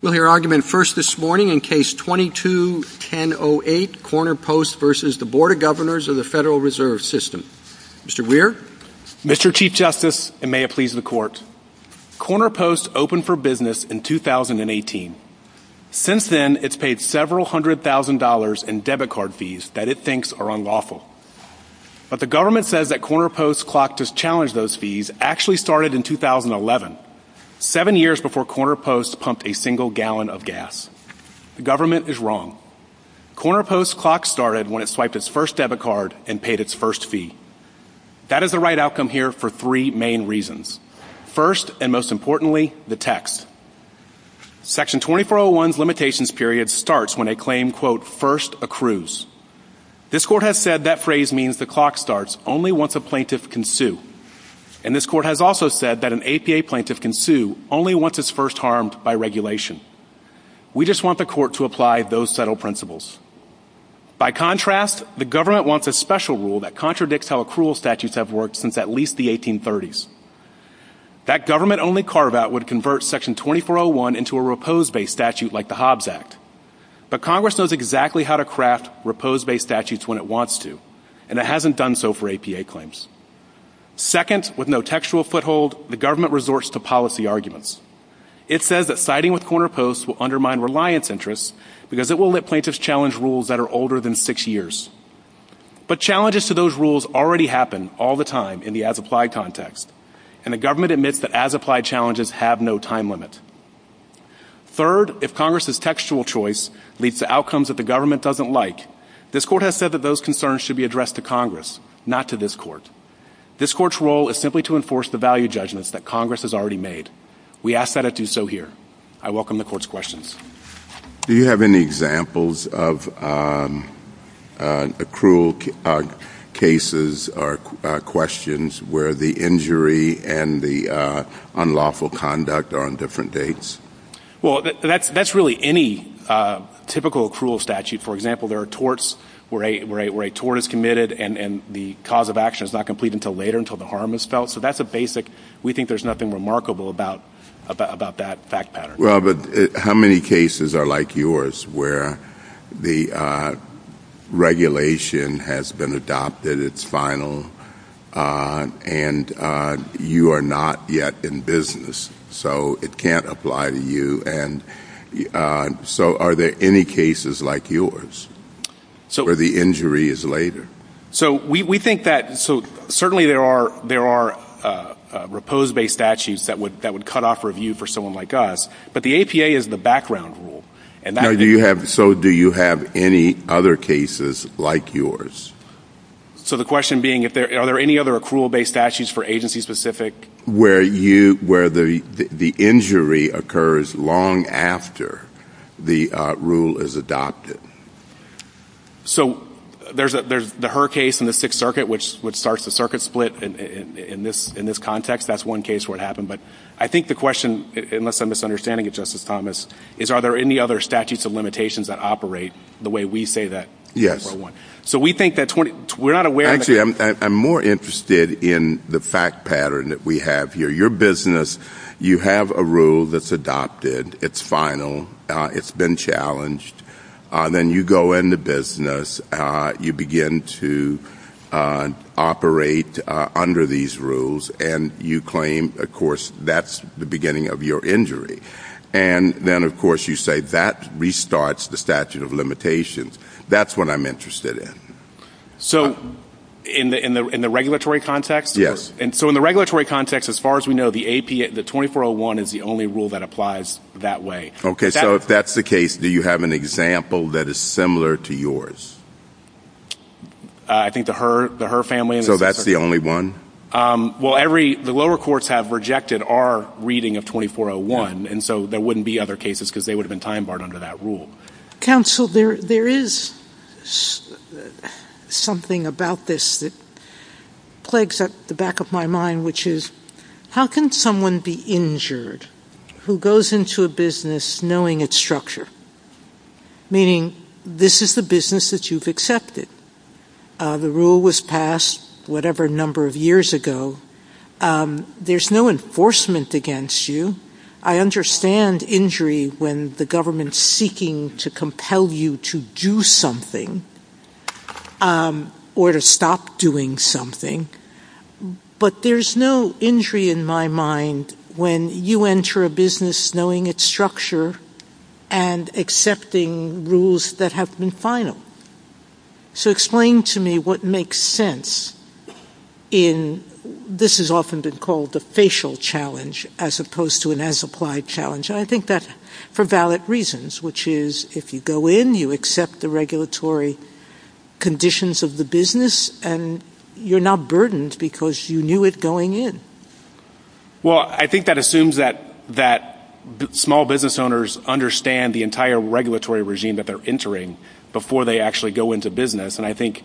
We'll hear argument first this morning in Case 22-10-08, Corner Post v. Bd. of Governors, FRS Mr. Weir? Mr. Chief Justice, and may it please the Court, Corner Post opened for business in 2018. Since then, it's paid several hundred thousand dollars in debit card fees that it thinks are unlawful. But the government says that Corner Post's clock to challenge those fees actually started in 2011, seven years before Corner Post pumped a single gallon of gas. The government is wrong. Corner Post's clock started when it swiped its first debit card and paid its first fee. That is the right outcome here for three main reasons. First, and most importantly, the text. Section 2401's limitations period starts when a claim, quote, first accrues. This Court has said that phrase means the clock starts only once a plaintiff can sue. And this Court has also said that an APA plaintiff can sue only once it's first harmed by regulation. We just want the Court to apply those settled principles. By contrast, the government wants a special rule that contradicts how accrual statutes have worked since at least the 1830s. That government-only carve-out would convert Section 2401 into a repose-based statute like the Hobbs Act. But Congress knows exactly how to craft repose-based statutes when it wants to, and it hasn't done so for APA claims. Second, with no textual foothold, the government resorts to policy arguments. It says that siding with Corner Post will undermine reliance interests because it will let plaintiffs challenge rules that are older than six years. But challenges to those rules already happen all the time in the as-applied context, and the government admits that as-applied challenges have no time limit. Third, if Congress's textual choice leads to outcomes that the government doesn't like, this Court has said that those concerns should be addressed to Congress, not to this Court. This Court's role is simply to enforce the value judgments that Congress has already made. We ask that it do so here. I welcome the Court's questions. Do you have any examples of accrual cases or questions where the injury and the unlawful conduct are on different dates? Well, that's really any typical accrual statute. For example, there are torts where a tort is committed and the cause of action is not complete until later, until the harm is felt. So that's a basic. We think there's nothing remarkable about that fact pattern. Well, but how many cases are like yours where the regulation has been adopted, it's final, and you are not yet in business, so it can't apply to you? So are there any cases like yours where the injury is later? Certainly there are repose-based statutes that would cut off review for someone like us, but the APA is the background rule. So do you have any other cases like yours? So the question being, are there any other accrual-based statutes for agencies specific? Where the injury occurs long after the rule is adopted. So there's the Hur case in the Sixth Circuit, which starts the circuit split in this context. That's one case where it happened. But I think the question, unless I'm misunderstanding it, Justice Thomas, is are there any other statutes of limitations that operate the way we say that? Yes. So we think that's what we're not aware of. You see, I'm more interested in the fact pattern that we have here. Your business, you have a rule that's adopted. It's final. It's been challenged. Then you go into business. You begin to operate under these rules, and you claim, of course, that's the beginning of your injury. And then, of course, you say that restarts the statute of limitations. That's what I'm interested in. So in the regulatory context? Yes. So in the regulatory context, as far as we know, the 2401 is the only rule that applies that way. Okay. So if that's the case, do you have an example that is similar to yours? I think the Hur family. So that's the only one? Well, the lower courts have rejected our reading of 2401, and so there wouldn't be other cases because they would have been time-barred under that rule. Counsel, there is something about this that plagues the back of my mind, which is how can someone be injured who goes into a business knowing its structure, meaning this is the business that you've accepted. The rule was passed whatever number of years ago. There's no enforcement against you. I understand injury when the government is seeking to compel you to do something or to stop doing something, but there's no injury in my mind when you enter a business knowing its structure and accepting rules that have been final. So explain to me what makes sense in, I mean, this has often been called the facial challenge as opposed to an as-applied challenge, and I think that's for valid reasons, which is if you go in, you accept the regulatory conditions of the business, and you're not burdened because you knew it going in. Well, I think that assumes that small business owners understand the entire regulatory regime that they're entering before they actually go into business, and I think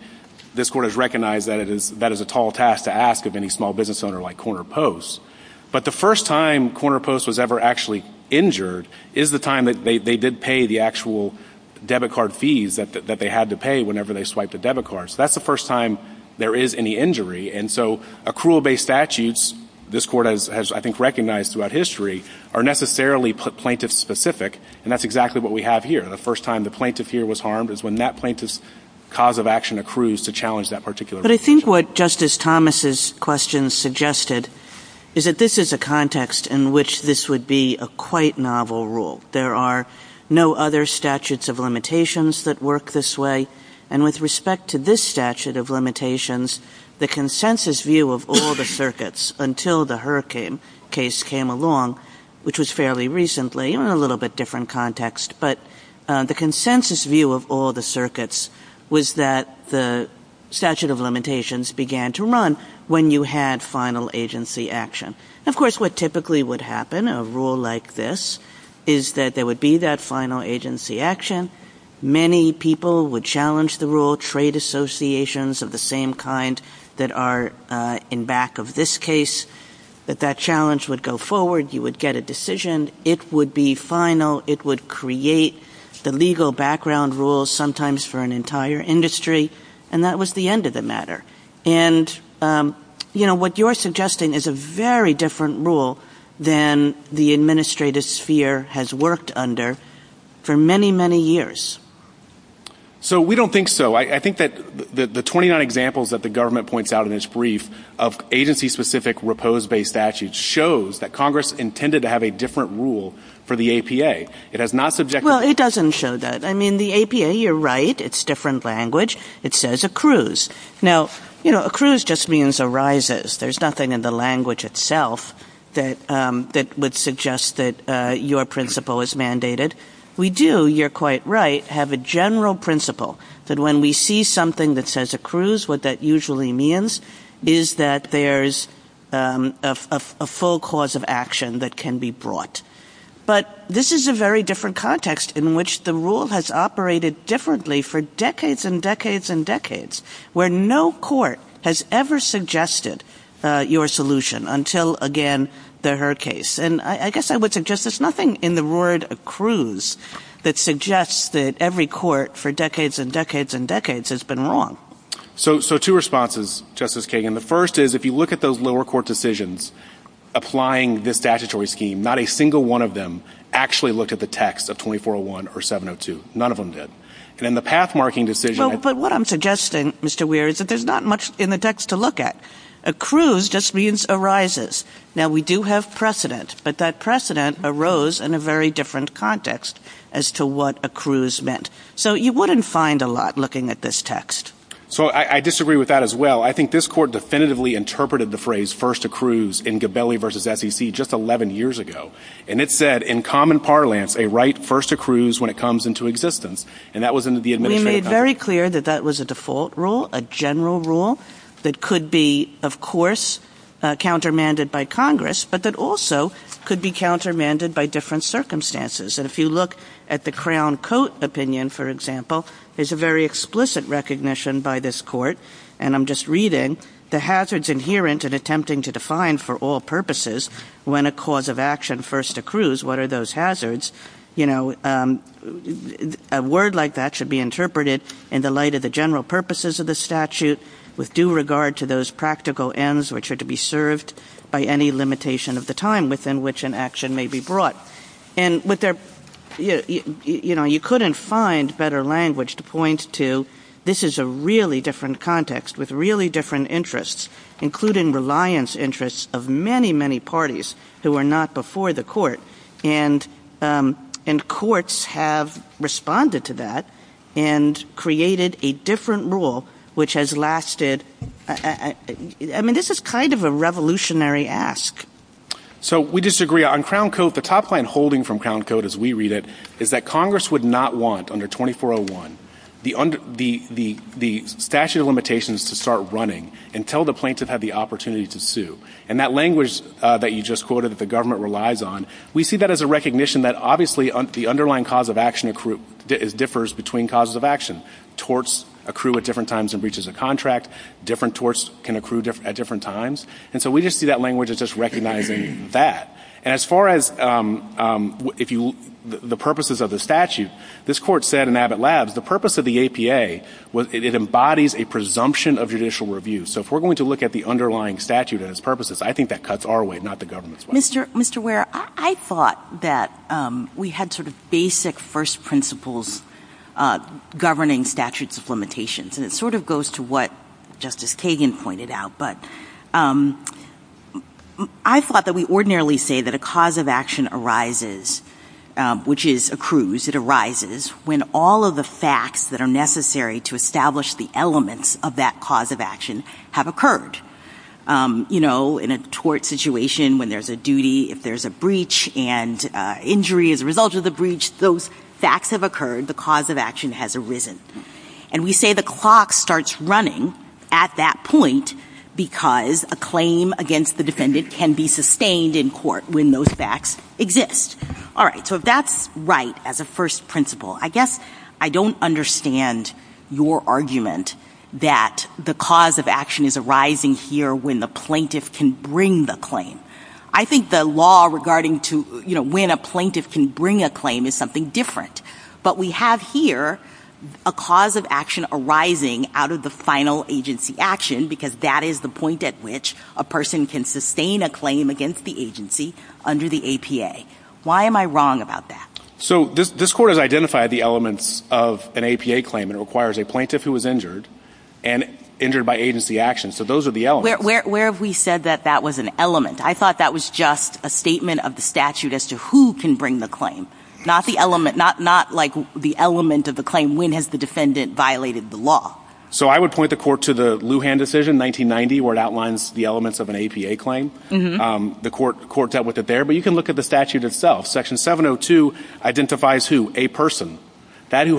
this Court has recognized that that is a tall task to ask of any small business owner like Corner Post. But the first time Corner Post was ever actually injured is the time that they did pay the actual debit card fees that they had to pay whenever they swiped a debit card. So that's the first time there is any injury. And so accrual-based statutes, this Court has, I think, recognized throughout history, are necessarily plaintiff-specific, and that's exactly what we have here. The first time the plaintiff here was harmed is when that plaintiff's cause of action accrues to challenge that particular rule. But I think what Justice Thomas's question suggested is that this is a context in which this would be a quite novel rule. There are no other statutes of limitations that work this way, and with respect to this statute of limitations, the consensus view of all the circuits until the Hurricane case came along, which was fairly recently in a little bit different context, but the consensus view of all the circuits was that the statute of limitations began to run when you had final agency action. Of course, what typically would happen in a rule like this is that there would be that final agency action. Many people would challenge the rule. Trade associations of the same kind that are in back of this case, that that challenge would go forward. You would get a decision. It would be final. It would create the legal background rules, sometimes for an entire industry, and that was the end of the matter. And what you're suggesting is a very different rule than the administrative sphere has worked under for many, many years. So we don't think so. I think that the 29 examples that the government points out in this brief of agency-specific repose-based statutes shows that Congress intended to have a different rule for the APA. Well, it doesn't show that. I mean, the APA, you're right, it's different language. It says accrues. Now, you know, accrues just means arises. There's nothing in the language itself that would suggest that your principle is mandated. We do, you're quite right, have a general principle that when we see something that says accrues, what that usually means is that there's a full cause of action that can be brought. But this is a very different context in which the rule has operated differently for decades and decades and decades, where no court has ever suggested your solution until, again, their case. And I guess I would suggest there's nothing in the word accrues that suggests that every court for decades and decades and decades has been wrong. So two responses, Justice Kagan. The first is if you look at those lower court decisions applying this statutory scheme, not a single one of them actually looked at the text of 2401 or 702. None of them did. And then the path-marking decision... But what I'm suggesting, Mr. Weir, is that there's not much in the text to look at. Accrues just means arises. Now, we do have precedent, but that precedent arose in a very different context as to what accrues meant. So you wouldn't find a lot looking at this text. So I disagree with that as well. I think this court definitively interpreted the phrase first accrues in Gabelli v. SEC just 11 years ago. And it said, in common parlance, a right first accrues when it comes into existence. And that was in the administrative document. We made very clear that that was a default rule, a general rule, that could be, of course, countermanded by Congress, but that also could be countermanded by different circumstances. And if you look at the Crown Coat opinion, for example, there's a very explicit recognition by this court, and I'm just reading, the hazards inherent in attempting to define for all purposes when a cause of action first accrues, what are those hazards? You know, a word like that should be interpreted in the light of the general purposes of the statute with due regard to those practical ends which are to be served by any limitation of the time within which an action may be brought. And you couldn't find better language to point to this is a really different context with really different interests, including reliance interests of many, many parties that were not before the court. And courts have responded to that and created a different rule which has lasted... I mean, this is kind of a revolutionary ask. So we disagree on Crown Coat. The top line holding from Crown Coat, as we read it, is that Congress would not want under 2401 the statute of limitations to start running until the plaintiff had the opportunity to sue. And that language that you just quoted that the government relies on, we see that as a recognition that obviously the underlying cause of action differs between causes of action. Torts accrue at different times in breaches of contract. Different torts can accrue at different times. And so we just see that language as just recognizing that. And as far as the purposes of the statute, this Court said in Abbott Labs, the purpose of the APA, it embodies a presumption of judicial review. So if we're going to look at the underlying statute and its purposes, I think that cuts our way, not the government's way. Mr. Ware, I thought that we had sort of basic first principles governing statutes of limitations. And it sort of goes to what Justice Kagan pointed out. But I thought that we ordinarily say that a cause of action arises, which is accrues, it arises when all of the facts that are necessary to establish the elements of that cause of action have occurred. You know, in a tort situation, when there's a duty, if there's a breach and injury as a result of the breach, those facts have occurred, the cause of action has arisen. And we say the clock starts running at that point because a claim against the defendant can be sustained in court when those facts exist. All right, so if that's right as a first principle, I guess I don't understand your argument that the cause of action is arising here when the plaintiff can bring the claim. I think the law regarding when a plaintiff can bring a claim is something different. But we have here a cause of action arising out of the final agency action because that is the point at which a person can sustain a claim against the agency under the APA. Why am I wrong about that? So this Court has identified the elements of an APA claim that requires a plaintiff who was injured and injured by agency action. So those are the elements. Where have we said that that was an element? I thought that was just a statement of the statute as to who can bring the claim, not like the element of the claim when has the defendant violated the law. So I would point the Court to the Lujan decision, 1990, where it outlines the elements of an APA claim. The Court dealt with it there. But you can look at the statute itself. Section 702 identifies who? A person. That's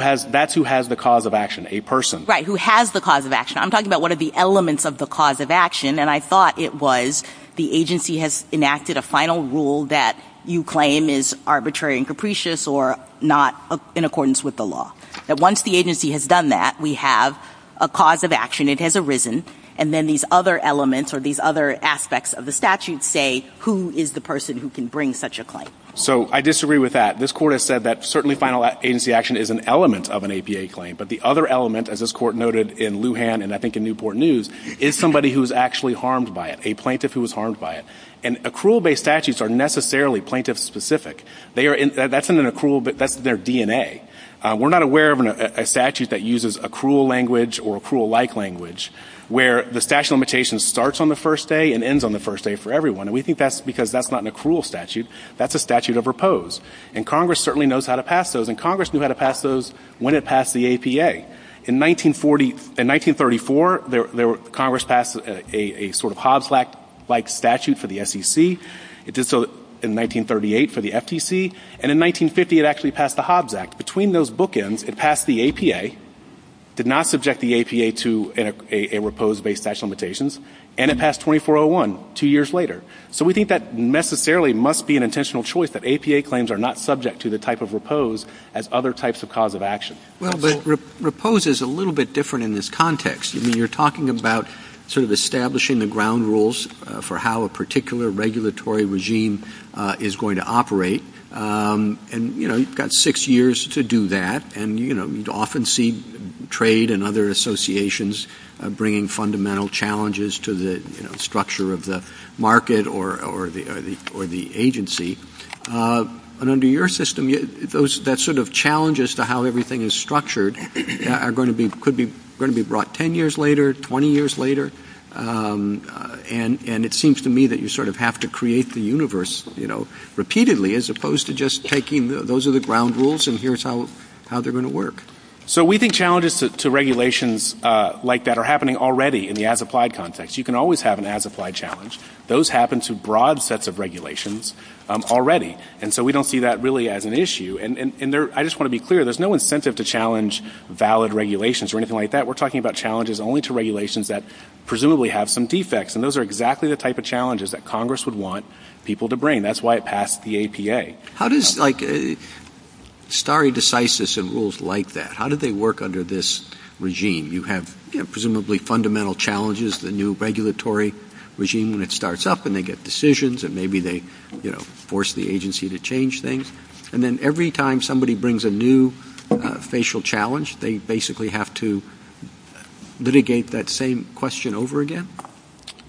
who has the cause of action, a person. Right, who has the cause of action. I'm talking about what are the elements of the cause of action, and I thought it was the agency has enacted a final rule that you claim is arbitrary and capricious or not in accordance with the law. Once the agency has done that, we have a cause of action. It has arisen, and then these other elements or these other aspects of the statute say who is the person who can bring such a claim. So I disagree with that. This Court has said that certainly final agency action is an element of an APA claim, but the other element, as this Court noted in Lujan and I think in Newport News, is somebody who's actually harmed by it, a plaintiff who was harmed by it. And accrual-based statutes are necessarily plaintiff-specific. That's their DNA. We're not aware of a statute that uses accrual language or accrual-like language where the statute of limitations starts on the first day and ends on the first day for everyone, and we think that's because that's not an accrual statute. That's a statute of repose, and Congress certainly knows how to pass those, and Congress knew how to pass those when it passed the APA. In 1934, Congress passed a sort of Hobbs-like statute for the SEC. It did so in 1938 for the FTC, and in 1950 it actually passed the Hobbs Act. Between those bookends, it passed the APA, did not subject the APA to a repose-based statute of limitations, and it passed 2401, two years later. So we think that necessarily must be an intentional choice that APA claims are not subject to the type of repose as other types of cause of action. Well, but repose is a little bit different in this context. I mean, you're talking about sort of establishing the ground rules for how a particular regulatory regime is going to operate, and, you know, you've got six years to do that, and, you know, you often see trade and other associations bringing fundamental challenges to the, you know, structure of the market or the agency, and under your system, those sort of challenges to how everything is structured could be brought 10 years later, 20 years later, and it seems to me that you sort of have to create the universe, you know, repeatedly as opposed to just taking those are the ground rules and here's how they're going to work. So we think challenges to regulations like that are happening already in the as-applied context. You can always have an as-applied challenge. Those happen to broad sets of regulations already, and so we don't see that really as an issue, and I just want to be clear, there's no incentive to challenge valid regulations or anything like that. We're talking about challenges only to regulations that presumably have some defects, and those are exactly the type of challenges that Congress would want people to bring. That's why it passed the APA. How does, like, stare decisis and rules like that, how do they work under this regime? You have, you know, presumably fundamental challenges, the new regulatory regime, and it starts up and they get decisions, and maybe they, you know, force the agency to change things, and then every time somebody brings a new facial challenge, they basically have to litigate that same question over again.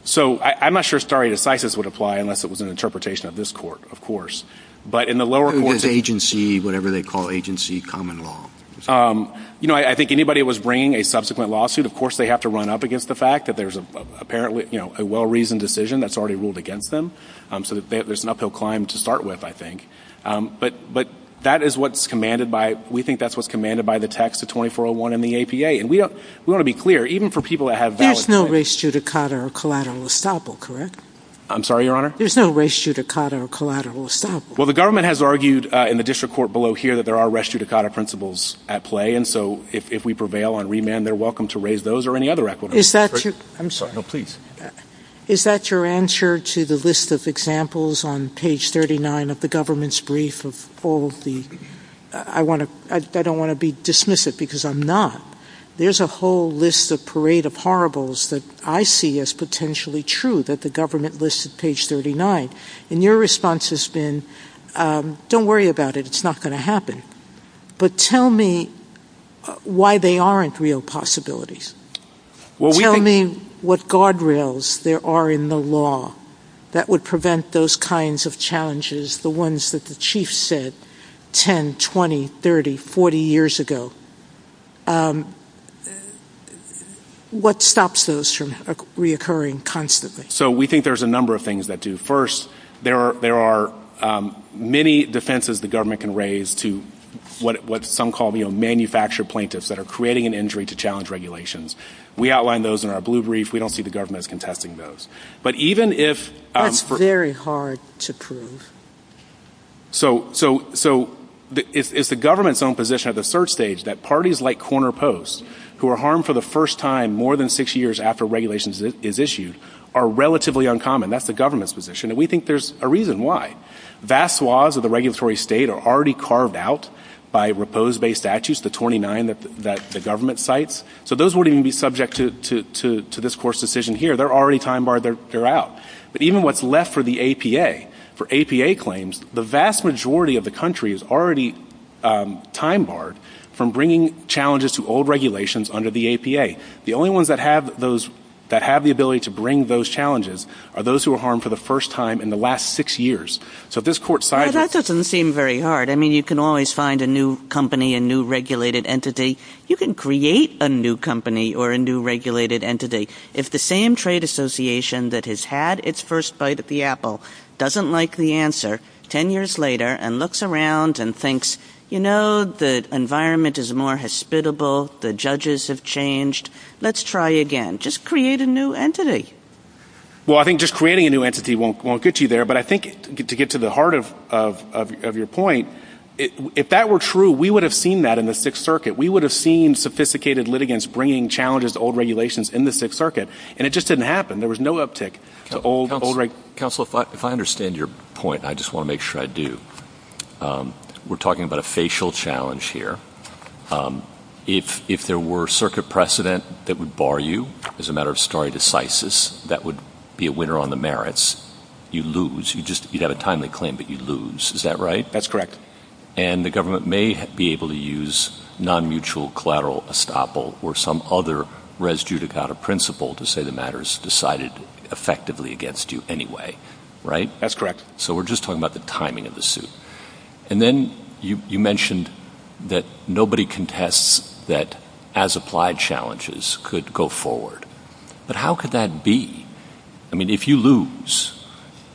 So I'm not sure stare decisis would apply unless it was an interpretation of this court, of course, but in the lower courts... Or this agency, whatever they call agency common law. You know, I think anybody that was bringing a subsequent lawsuit, of course they have to run up against the fact that there's apparently, you know, a well-reasoned decision that's already ruled against them, so there's an uphill climb to start with, I think. But that is what's commanded by, we think that's what's commanded by the text of 2401 in the APA, and we want to be clear, even for people that have valid... There's no res judicata or collateral estoppel, correct? I'm sorry, Your Honor? There's no res judicata or collateral estoppel. Well, the government has argued in the district court below here that there are res judicata principles at play, and so if we prevail on remand, they're welcome to raise those or any other equitable... Is that your... I'm sorry. No, please. Is that your answer to the list of examples on page 39 of the government's brief of all the... I want to... I don't want to dismiss it because I'm not. There's a whole list, a parade of horribles that I see as potentially true, that the government lists at page 39. And your response has been, don't worry about it, it's not going to happen. But tell me why they aren't real possibilities. Tell me what guardrails there are in the law that would prevent those kinds of challenges, the ones that the chief said 10, 20, 30, 40 years ago. What stops those from reoccurring constantly? So we think there's a number of things that do. First, there are many defenses the government can raise to what some call manufactured plaintiffs that are creating an injury to challenge regulations. We outline those in our blue brief. We don't see the government as contesting those. But even if... That's very hard to prove. So it's the government's own position at the third stage that parties like Corner Post, who are harmed for the first time more than six years after regulation is issued, are relatively uncommon. That's the government's position. And we think there's a reason why. Vast swaths of the regulatory state are already carved out by repose-based statutes, such as the 29 that the government cites. So those wouldn't even be subject to this court's decision here. They're already time-barred. They're out. But even what's left for the APA, for APA claims, the vast majority of the country is already time-barred from bringing challenges to old regulations under the APA. The only ones that have the ability to bring those challenges are those who are harmed for the first time in the last six years. So this court... That doesn't seem very hard. I mean, you can always find a new company, a new regulated entity. You can create a new company or a new regulated entity. If the same trade association that has had its first bite at the apple doesn't like the answer ten years later and looks around and thinks, you know, the environment is more hospitable, the judges have changed, let's try again. Just create a new entity. Well, I think just creating a new entity won't get you there. But I think, to get to the heart of your point, if that were true, we would have seen that in the Sixth Circuit. We would have seen sophisticated litigants bringing challenges to old regulations in the Sixth Circuit, and it just didn't happen. There was no uptick to old regulations. Counselor, if I understand your point, and I just want to make sure I do, we're talking about a facial challenge here. If there were circuit precedent that would bar you, as a matter of story decisis, that would be a winner on the merits. You lose. You have a timely claim, but you lose. Is that right? That's correct. And the government may be able to use non-mutual collateral estoppel or some other res judicata principle to say the matter is decided effectively against you anyway. Right? That's correct. So we're just talking about the timing of the suit. And then you mentioned that nobody contests that as-applied challenges could go forward. But how could that be? I mean, if you lose,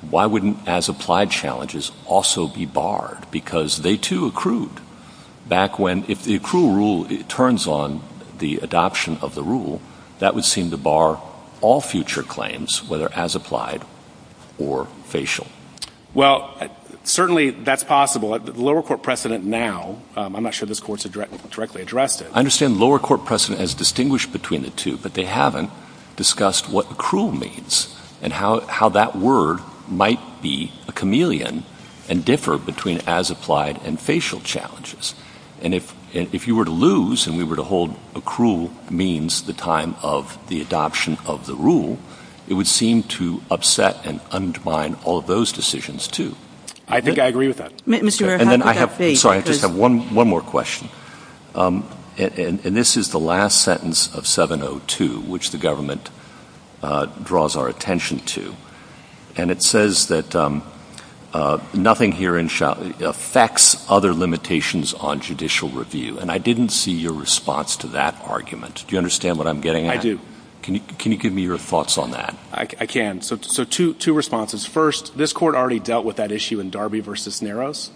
why wouldn't as-applied challenges also be barred? Because they, too, accrued. Back when the accrual rule turns on the adoption of the rule, that would seem to bar all future claims, whether as-applied or facial. Well, certainly that's possible. The lower court precedent now, I'm not sure this Court has directly addressed it. I understand the lower court precedent has distinguished between the two, but they haven't discussed what accrual means and how that word might be a chameleon and differ between as-applied and facial challenges. And if you were to lose and we were to hold accrual means the time of the adoption of the rule, it would seem to upset and undermine all of those decisions, too. I think I agree with that. Mr. Merrifield, what does that say? Sorry, I just have one more question. And this is the last sentence of 702, which the government draws our attention to. And it says that nothing here affects other limitations on judicial review, and I didn't see your response to that argument. Do you understand what I'm getting at? I do. Can you give me your thoughts on that? I can. So two responses. First, this Court already dealt with that issue in Darby v. Naros.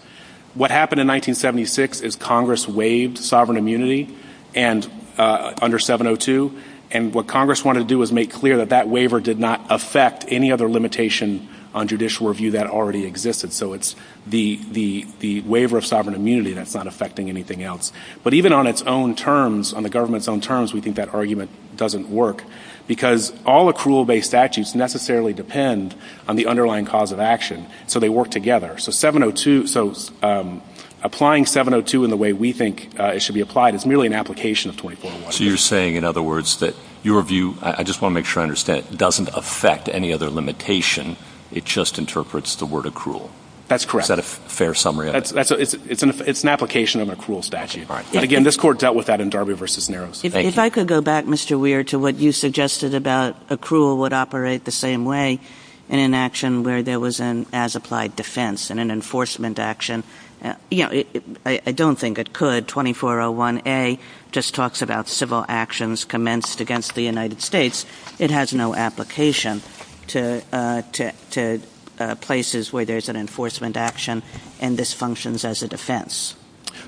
What happened in 1976 is Congress waived sovereign immunity under 702, and what Congress wanted to do was make clear that that waiver did not affect any other limitation on judicial review that already existed. So it's the waiver of sovereign immunity that's not affecting anything else. But even on its own terms, on the government's own terms, we think that argument doesn't work because all accrual-based statutes necessarily depend on the underlying cause of action, so they work together. So applying 702 in the way we think it should be applied is merely an application of 24-1. So you're saying, in other words, that your view, I just want to make sure I understand, doesn't affect any other limitation. It just interprets the word accrual. That's correct. Is that a fair summary of it? It's an application of an accrual statute. Again, this Court dealt with that in Darby v. Naros. If I could go back, Mr. Weir, to what you suggested about accrual would operate the same way in an action where there was an as-applied defense and an enforcement action. I don't think it could. 24-01A just talks about civil actions commenced against the United States. It has no application to places where there's an enforcement action, and this functions as a defense.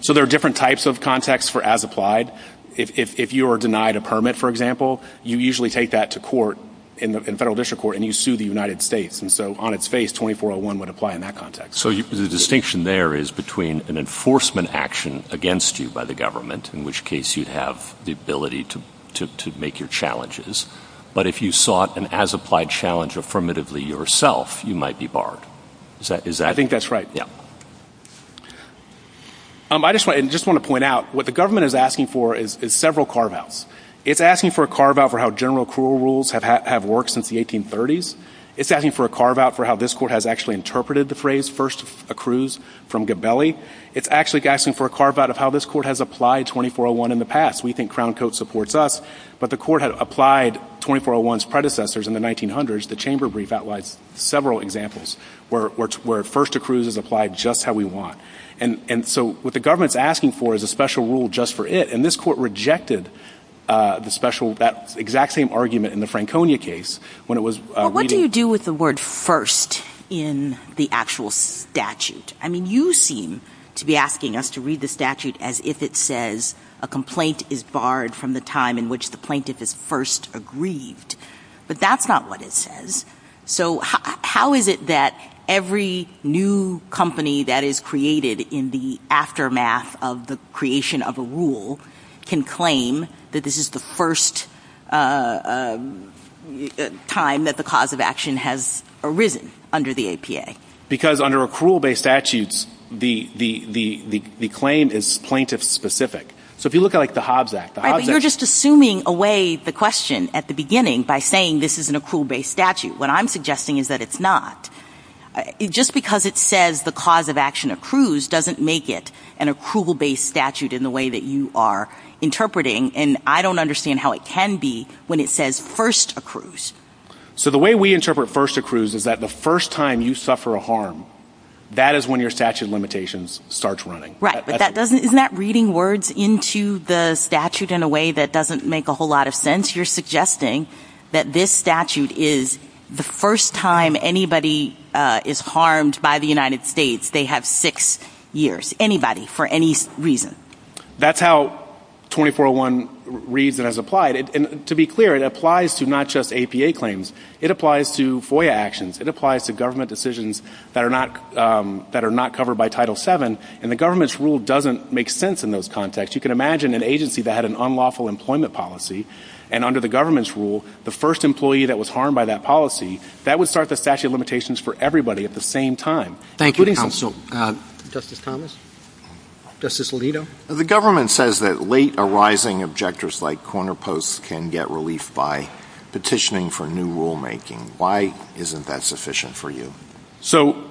So there are different types of context for as-applied. If you are denied a permit, for example, you usually take that to court in federal district court, and you sue the United States. And so on its face, 24-01 would apply in that context. So the distinction there is between an enforcement action against you by the government, in which case you'd have the ability to make your challenges, but if you sought an as-applied challenge affirmatively yourself, you might be barred. I think that's right. I just want to point out, what the government is asking for is several carve-outs. It's asking for a carve-out for how general accrual rules have worked since the 1830s. It's asking for a carve-out for how this court has actually interpreted the phrase first accrues from Gabelli. It's actually asking for a carve-out of how this court has applied 24-01 in the past. We think Crown Court supports us, but the court had applied 24-01's predecessors in the 1900s. The chamber brief outlines several examples where first accrues is applied just how we want. And so what the government is asking for is a special rule just for it, and this court rejected that exact same argument in the Franconia case. What do you do with the word first in the actual statute? You seem to be asking us to read the statute as if it says a complaint is barred from the time in which the plaintiff is first aggrieved, but that's not what it says. So how is it that every new company that is created in the aftermath of the creation of a rule can claim that this is the first time that the cause of action has arisen under the APA? Because under accrual-based statutes, the claim is plaintiff-specific. So if you look at, like, the Hobbs Act, the Hobbs Act... What I'm suggesting is that it's not. Just because it says the cause of action accrues doesn't make it an accrual-based statute in the way that you are interpreting, and I don't understand how it can be when it says first accrues. So the way we interpret first accrues is that the first time you suffer a harm, that is when your statute of limitations starts running. Right, but isn't that reading words into the statute in a way that doesn't make a whole lot of sense? If you're suggesting that this statute is the first time anybody is harmed by the United States, they have six years, anybody, for any reason. That's how 2401 reads and is applied. And to be clear, it applies to not just APA claims. It applies to FOIA actions. It applies to government decisions that are not covered by Title VII, and the government's rule doesn't make sense in those contexts. You can imagine an agency that had an unlawful employment policy, and under the government's rule, the first employee that was harmed by that policy, that would start the statute of limitations for everybody at the same time. Thank you, counsel. Justice Thomas? Justice Alito? The government says that late-arising objectors like corner posts can get relief by petitioning for new rulemaking. Why isn't that sufficient for you?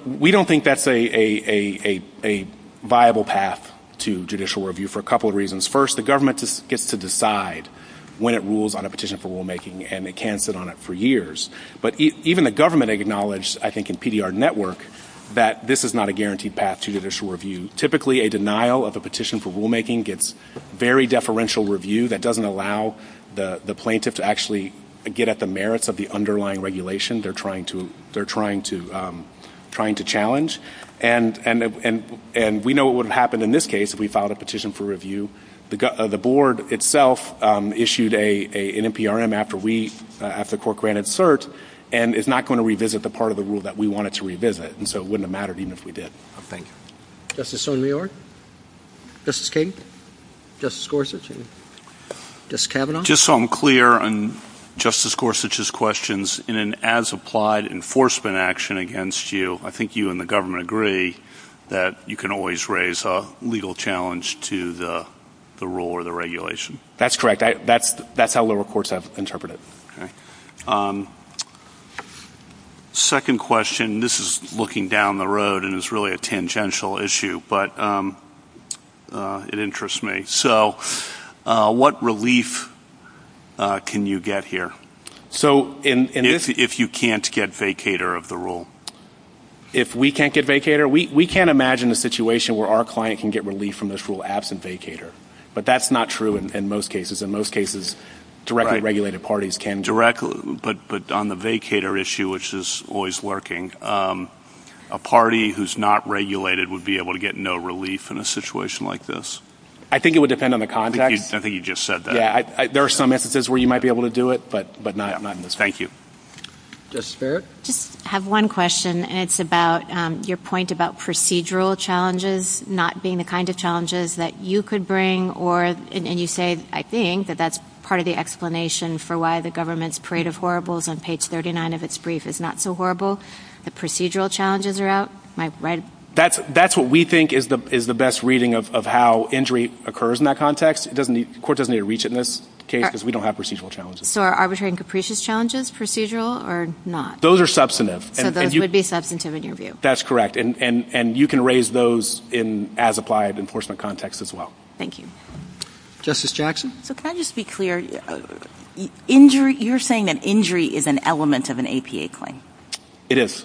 We don't think that's a viable path to judicial review for a couple of reasons. First, the government gets to decide when it rules on a petition for rulemaking, and it can sit on it for years. But even the government acknowledged, I think, in PDR Network, that this is not a guaranteed path to judicial review. Typically, a denial of a petition for rulemaking gets very deferential review. That doesn't allow the plaintiff to actually get at the merits of the underlying regulation they're trying to challenge. And we know what would have happened in this case if we filed a petition for review. The board itself issued an NPRM after the court granted cert, and it's not going to revisit the part of the rule that we wanted to revisit, and so it wouldn't have mattered even if we did. Thank you. Justice O'Neill? Justice King? Justice Gorsuch? Justice Kavanaugh? Just so I'm clear on Justice Gorsuch's questions, in an as-applied enforcement action against you, I think you and the government agree that you can always raise a legal challenge to the rule or the regulation. That's correct. That's how the courts have interpreted it. Okay. Second question. This is looking down the road, and it's really a tangential issue, but it interests me. So what relief can you get here if you can't get vacator of the rule? If we can't get vacator? We can't imagine a situation where our client can get relief from this rule absent vacator, but that's not true in most cases. In most cases, directly regulated parties can. But on the vacator issue, which is always working, a party who's not regulated would be able to get no relief in a situation like this. I think it would depend on the context. I think you just said that. There are some instances where you might be able to do it, but not in this case. Thank you. Justice Barrett? I have one question, and it's about your point about procedural challenges not being the kind of challenges that you could bring, and you say, I think, that that's part of the explanation for why the government's parade of horribles on page 39 of its brief is not so horrible. The procedural challenges are out. That's what we think is the best reading of how injury occurs in that context. The court doesn't need to reach it in this case because we don't have procedural challenges. So are arbitrary and capricious challenges procedural or not? Those are substantive. So those would be substantive in your view. That's correct, and you can raise those as applied enforcement context as well. Thank you. Justice Jackson? So can I just be clear? You're saying that injury is an element of an APA claim. It is.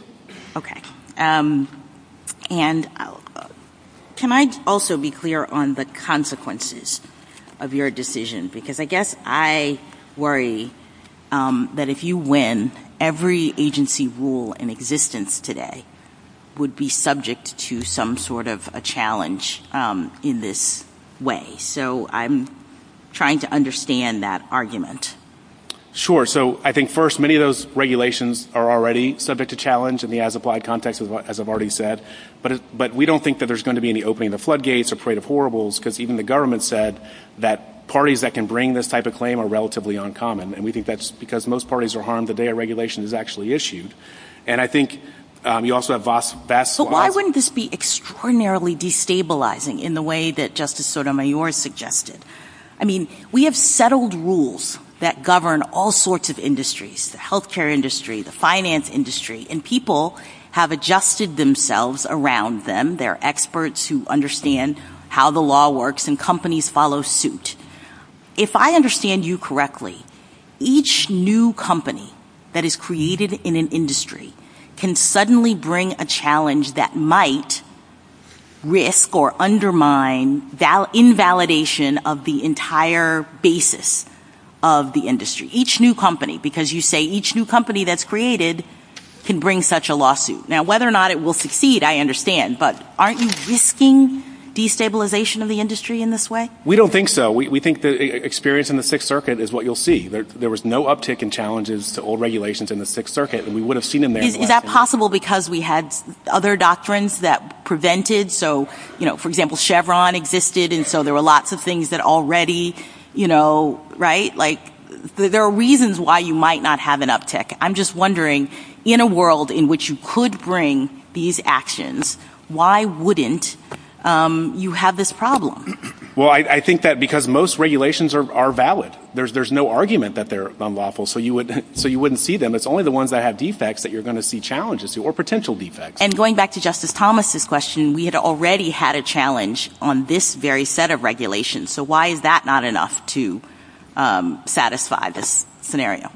Okay. And can I also be clear on the consequences of your decision? Because I guess I worry that if you win, every agency rule in existence today would be subject to some sort of a challenge in this way. So I'm trying to understand that argument. Sure. So I think, first, many of those regulations are already subject to challenge in the as-applied context, as I've already said. But we don't think that there's going to be any opening the floodgates or parade of horribles because even the government said that parties that can bring this type of claim are relatively uncommon. And we think that's because most parties are harmed the day a regulation is actually issued. And I think you also have vast – Why wouldn't this be extraordinarily destabilizing in the way that Justice Sotomayor suggested? I mean, we have settled rules that govern all sorts of industries, the healthcare industry, the finance industry, and people have adjusted themselves around them. They're experts who understand how the law works and companies follow suit. If I understand you correctly, each new company that is created in an industry can suddenly bring a challenge that might risk or undermine invalidation of the entire basis of the industry. Each new company. Because you say each new company that's created can bring such a lawsuit. Now, whether or not it will succeed, I understand. But aren't you risking destabilization of the industry in this way? We don't think so. We think the experience in the Sixth Circuit is what you'll see. There was no uptick in challenges to old regulations in the Sixth Circuit. We would have seen them there. Is that possible because we had other doctrines that prevented? So, you know, for example, Chevron existed and so there were lots of things that already, you know, right? Like, there are reasons why you might not have an uptick. I'm just wondering, in a world in which you could bring these actions, why wouldn't you have this problem? Well, I think that because most regulations are valid. There's no argument that they're unlawful, so you wouldn't see them. It's only the ones that have defects that you're going to see challenges to or potential defects. And going back to Justice Thomas' question, we had already had a challenge on this very set of regulations. So why is that not enough to satisfy this scenario?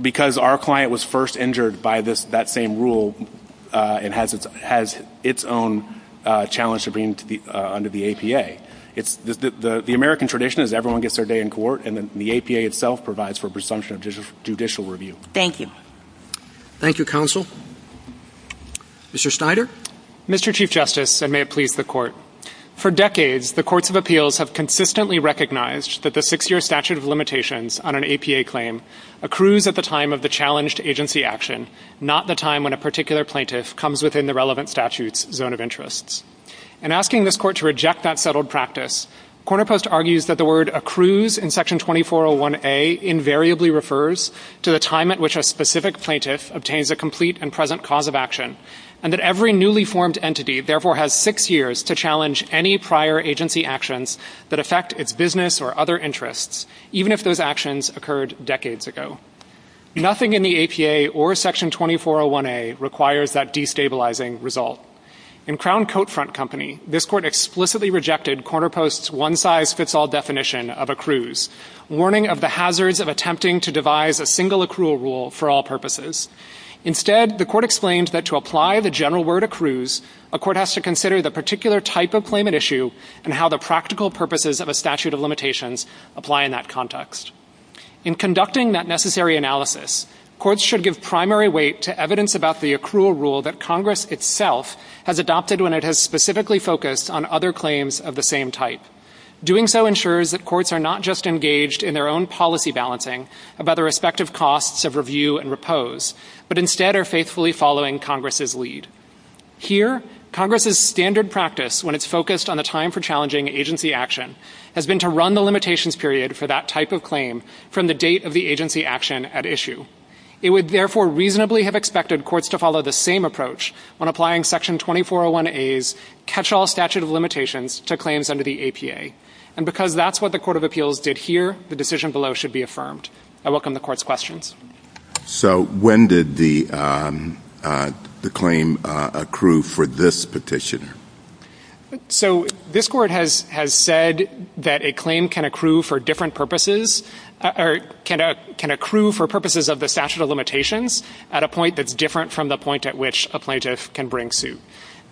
Because our client was first injured by that same rule and has its own challenge to being under the APA. The American tradition is everyone gets their day in court, and then the APA itself provides for presumption of judicial review. Thank you. Thank you, Counsel. Mr. Snyder? For decades, the courts of appeals have consistently recognized that the six-year statute of limitations on an APA claim accrues at the time of the challenge to agency action, not the time when a particular plaintiff comes within the relevant statute's zone of interest. In asking this court to reject that settled practice, Corner Post argues that the word accrues in Section 2401A invariably refers to the time at which a specific plaintiff obtains a complete and present cause of action, and that every newly formed entity therefore has six years to challenge any prior agency actions that affect its business or other interests, even if those actions occurred decades ago. Nothing in the APA or Section 2401A requires that destabilizing result. In Crown Coat Front Company, this court explicitly rejected Corner Post's one-size-fits-all definition of accrues, warning of the hazards of attempting to devise a single accrual rule for all purposes. Instead, the court exclaims that to apply the general word accrues, a court has to consider the particular type of claimant issue and how the practical purposes of a statute of limitations apply in that context. In conducting that necessary analysis, courts should give primary weight to evidence about the accrual rule that Congress itself has adopted when it has specifically focused on other claims of the same type. Doing so ensures that courts are not just engaged in their own policy balancing about their respective costs of review and repose, but instead are faithfully following Congress's lead. Here, Congress's standard practice when it's focused on a time for challenging agency action has been to run the limitations period for that type of claim from the date of the agency action at issue. It would therefore reasonably have expected courts to follow the same approach when applying Section 2401A's catch-all statute of limitations to claims under the APA. And because that's what the Court of Appeals did here, the decision below should be affirmed. I welcome the Court's questions. So when did the claim accrue for this petition? So this Court has said that a claim can accrue for different purposes or can accrue for purposes of the statute of limitations at a point that's different from the point at which the plaintiff can bring suit.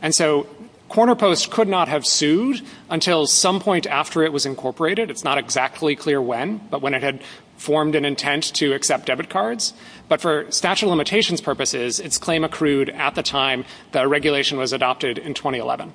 And so Corner Post could not have sued until some point after it was incorporated. It's not exactly clear when, but when it had formed an intent to accept debit cards. But for statute of limitations purposes, its claim accrued at the time the regulation was adopted in 2011.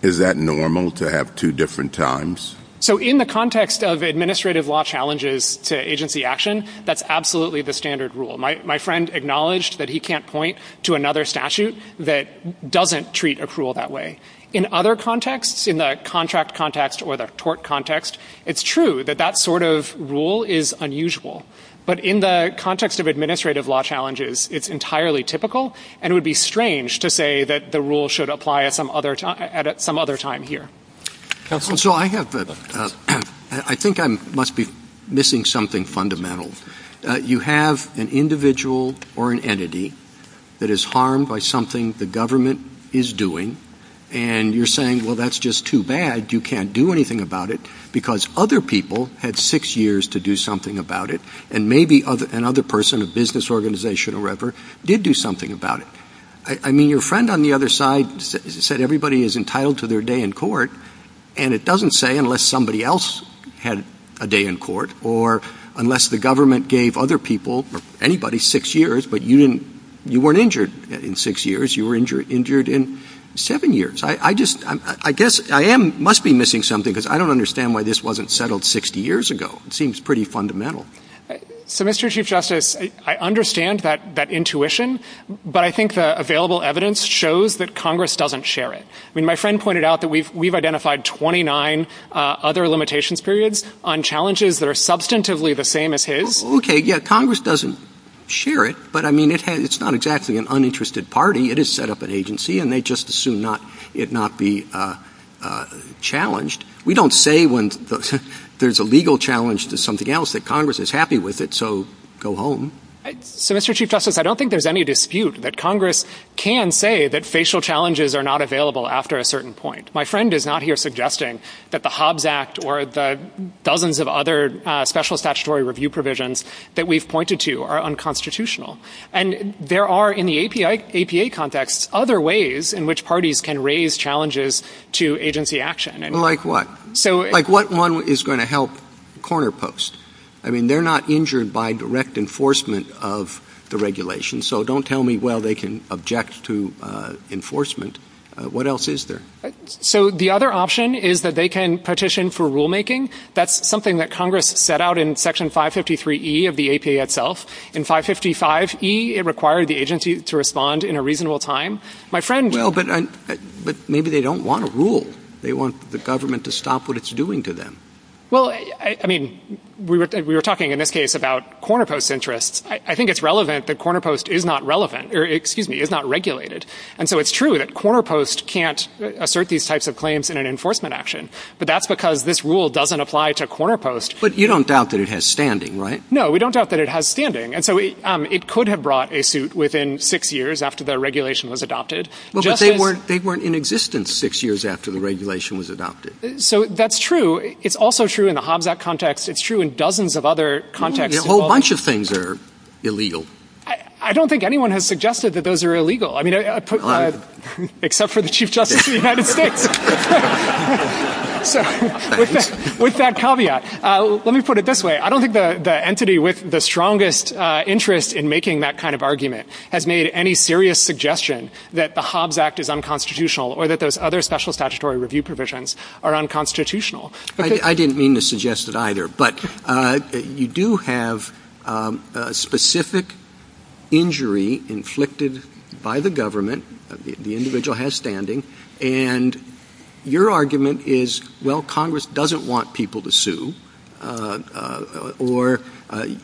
Is that normal to have two different times? So in the context of administrative law challenges to agency action, that's absolutely the standard rule. My friend acknowledged that he can't point to another statute that doesn't treat accrual that way. In other contexts, in the contract context or the tort context, it's true that that sort of rule is unusual. But in the context of administrative law challenges, it's entirely typical, and it would be strange to say that the rule should apply at some other time here. So I think I must be missing something fundamental. You have an individual or an entity that is harmed by something the government is doing, and you're saying, well, that's just too bad, you can't do anything about it, because other people had six years to do something about it, and maybe another person, a business organization or whatever, did do something about it. I mean, your friend on the other side said everybody is entitled to their day in court, and it doesn't say unless somebody else had a day in court, or unless the government gave other people, anybody, six years, but you weren't injured in six years, you were injured in seven years. I guess I must be missing something, because I don't understand why this wasn't settled 60 years ago. It seems pretty fundamental. So, Mr. Chief Justice, I understand that intuition, but I think the available evidence shows that Congress doesn't share it. I mean, my friend pointed out that we've identified 29 other limitations periods on challenges that are substantively the same as his. Okay, yeah, Congress doesn't share it, but I mean, it's not exactly an uninterested party. It has set up an agency, and they just assume it not be challenged. We don't say when there's a legal challenge to something else that Congress is happy with it, so go home. So, Mr. Chief Justice, I don't think there's any dispute that Congress can say that facial challenges are not available after a certain point. My friend is not here suggesting that the Hobbs Act or the dozens of other special statutory review provisions that we've pointed to are unconstitutional. And there are, in the APA context, other ways in which parties can raise challenges to agency action. Like what? Like what one is going to help corner post. I mean, they're not injured by direct enforcement of the regulation, so don't tell me, well, they can object to enforcement. What else is there? So the other option is that they can petition for rulemaking. That's something that Congress set out in Section 553E of the APA itself. In 555E, it required the agency to respond in a reasonable time. Well, but maybe they don't want to rule. They want the government to stop what it's doing to them. Well, I mean, we were talking in this case about corner post interests. I think it's relevant that corner post is not relevant, or excuse me, is not regulated. And so it's true that corner post can't assert these types of claims in an enforcement action. But that's because this rule doesn't apply to corner post. But you don't doubt that it has standing, right? No, we don't doubt that it has standing. And so it could have brought a suit within six years after the regulation was adopted. Well, but they weren't in existence six years after the regulation was adopted. So that's true. It's also true in the Hobbs Act context. It's true in dozens of other contexts. A whole bunch of things are illegal. I don't think anyone has suggested that those are illegal. Except for the Chief Justice of the United States. With that caveat. Let me put it this way. I don't think the entity with the strongest interest in making that kind of argument has made any serious suggestion that the Hobbs Act is unconstitutional or that those other special statutory review provisions are unconstitutional. I didn't mean to suggest it either. But you do have a specific injury inflicted by the government. The individual has standing. And your argument is, well, Congress doesn't want people to sue. Or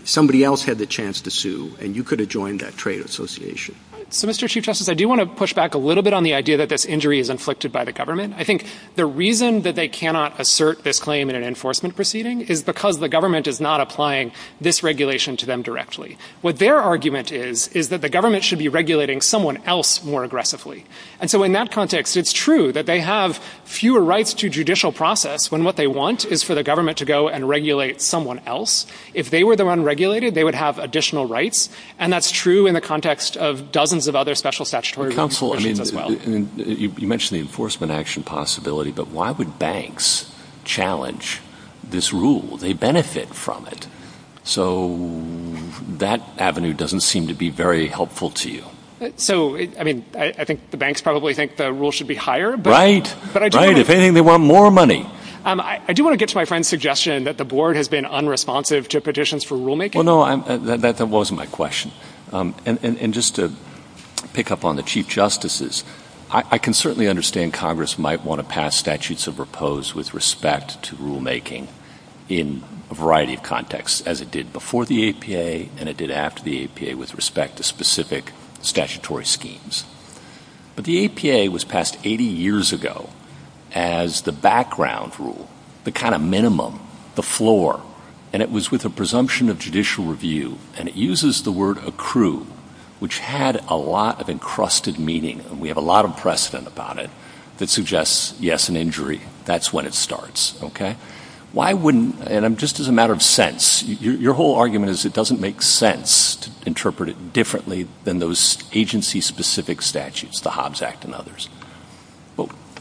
somebody else had the chance to sue. And you could have joined that trade association. Mr. Chief Justice, I do want to push back a little bit on the idea that this injury is inflicted by the government. I think the reason that they cannot assert this claim in an enforcement proceeding is because the government is not applying this regulation to them directly. What their argument is, is that the government should be regulating someone else more aggressively. And so in that context, it's true that they have fewer rights to judicial process when what they want is for the government to go and regulate someone else. If they were the one regulated, they would have additional rights. And that's true in the context of dozens of other special statutory. You mentioned the enforcement action possibility, but why would banks challenge this rule? They benefit from it. So that avenue doesn't seem to be very helpful to you. So, I mean, I think the banks probably think the rule should be higher. Right. Right. If anything, they want more money. I do want to get to my friend's suggestion that the board has been unresponsive to petitions for rulemaking. Well, no, that wasn't my question. And just to pick up on the chief justices, I can certainly understand Congress might want to pass statutes of repose with respect to rulemaking in a variety of contexts, as it did before the APA and it did after the APA with respect to specific statutory schemes. But the APA was passed 80 years ago as the background rule, the kind of minimum, the floor. And it was with a presumption of judicial review. And it uses the word accrue, which had a lot of encrusted meaning. And we have a lot of precedent about it that suggests, yes, an injury, that's when it starts. Okay.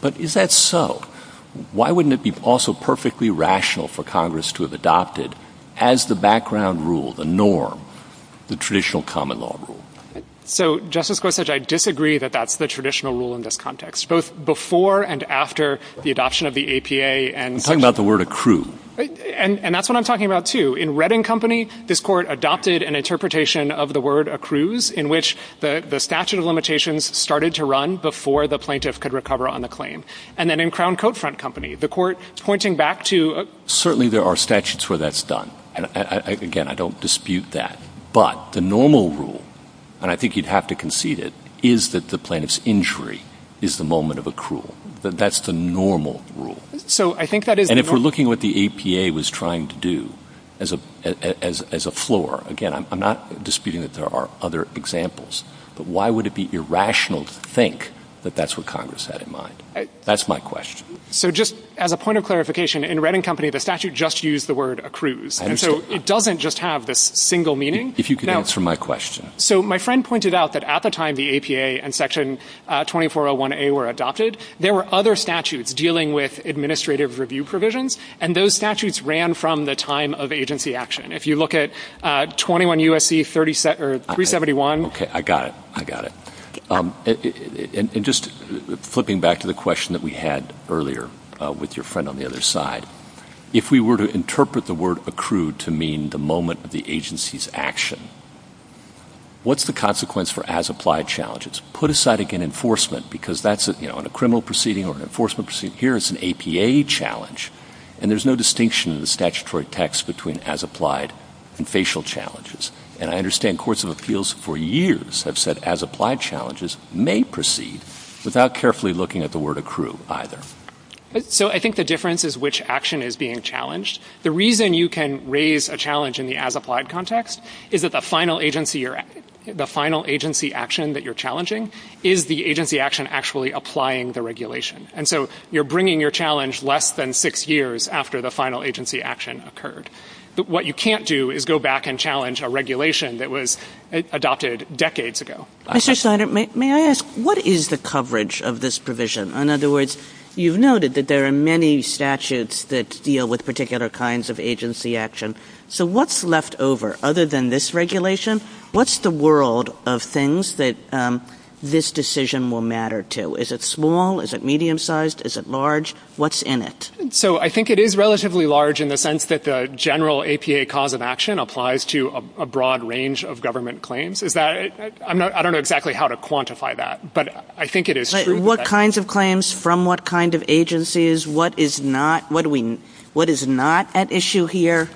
But is that so? Why wouldn't it be also perfectly rational for Congress to have adopted as the background rule, the norm, the traditional common law rule? So, Justice Gorsuch, I disagree that that's the traditional rule in this context, both before and after the adoption of the APA. I'm talking about the word accrue. And that's what I'm talking about, too. In Redding Company, this court adopted an interpretation of the word accrues, in which the statute of limitations started to run before the plaintiff could recover on the claim. And then in Crown Coat Front Company, the court pointing back to — Certainly, there are statutes where that's done. And, again, I don't dispute that. But the normal rule, and I think you'd have to concede it, is that the plaintiff's injury is the moment of accrual. That's the normal rule. And if we're looking at what the APA was trying to do as a floor, again, I'm not disputing that there are other examples. But why would it be irrational to think that that's what Congress had in mind? That's my question. So, just as a point of clarification, in Redding Company, the statute just used the word accrues. And so it doesn't just have this single meaning. If you could answer my question. So, my friend pointed out that at the time the APA and Section 2401A were adopted, there were other statutes dealing with administrative review provisions. And those statutes ran from the time of agency action. If you look at 21 U.S.C. 371 — Okay, I got it. I got it. And just flipping back to the question that we had earlier with your friend on the other side, if we were to interpret the word accrued to mean the moment of the agency's action, what's the consequence for as-applied challenges? Put aside, again, enforcement, because that's a criminal proceeding or an enforcement proceeding. Here, it's an APA challenge. And there's no distinction in the statutory text between as-applied and facial challenges. And I understand courts of appeals for years have said as-applied challenges may proceed without carefully looking at the word accrue either. So, I think the difference is which action is being challenged. The reason you can raise a challenge in the as-applied context is that the final agency action that you're challenging is the agency action actually applying the regulation. And so, you're bringing your challenge less than six years after the final agency action occurred. But what you can't do is go back and challenge a regulation that was adopted decades ago. Mr. Snyder, may I ask, what is the coverage of this provision? In other words, you've noted that there are many statutes that deal with particular kinds of agency action. So, what's left over other than this regulation? What's the world of things that this decision will matter to? Is it small? Is it medium-sized? Is it large? What's in it? So, I think it is relatively large in the sense that the general APA cause of action applies to a broad range of government claims. I don't know exactly how to quantify that, but I think it is true. What kinds of claims from what kind of agencies? What is not at issue here?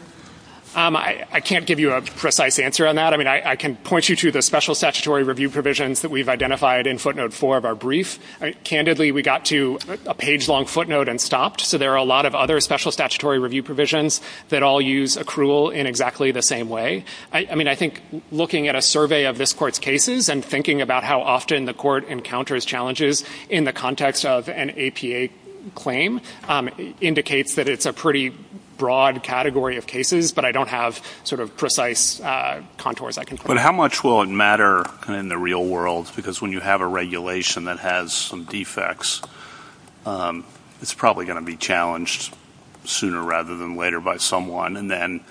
I can't give you a precise answer on that. I mean, I can point you to the special statutory review provisions that we've identified in footnote four of our brief. Candidly, we got to a page-long footnote and stopped. So, there are a lot of other special statutory review provisions that all use accrual in exactly the same way. I mean, I think looking at a survey of this court's cases and thinking about how often the court encounters challenges in the context of an APA claim indicates that it's a pretty broad category of cases, but I don't have sort of precise contours I can put out. How much will it matter in the real world? Because when you have a regulation that has some defects, it's probably going to be challenged sooner rather than later by someone. And then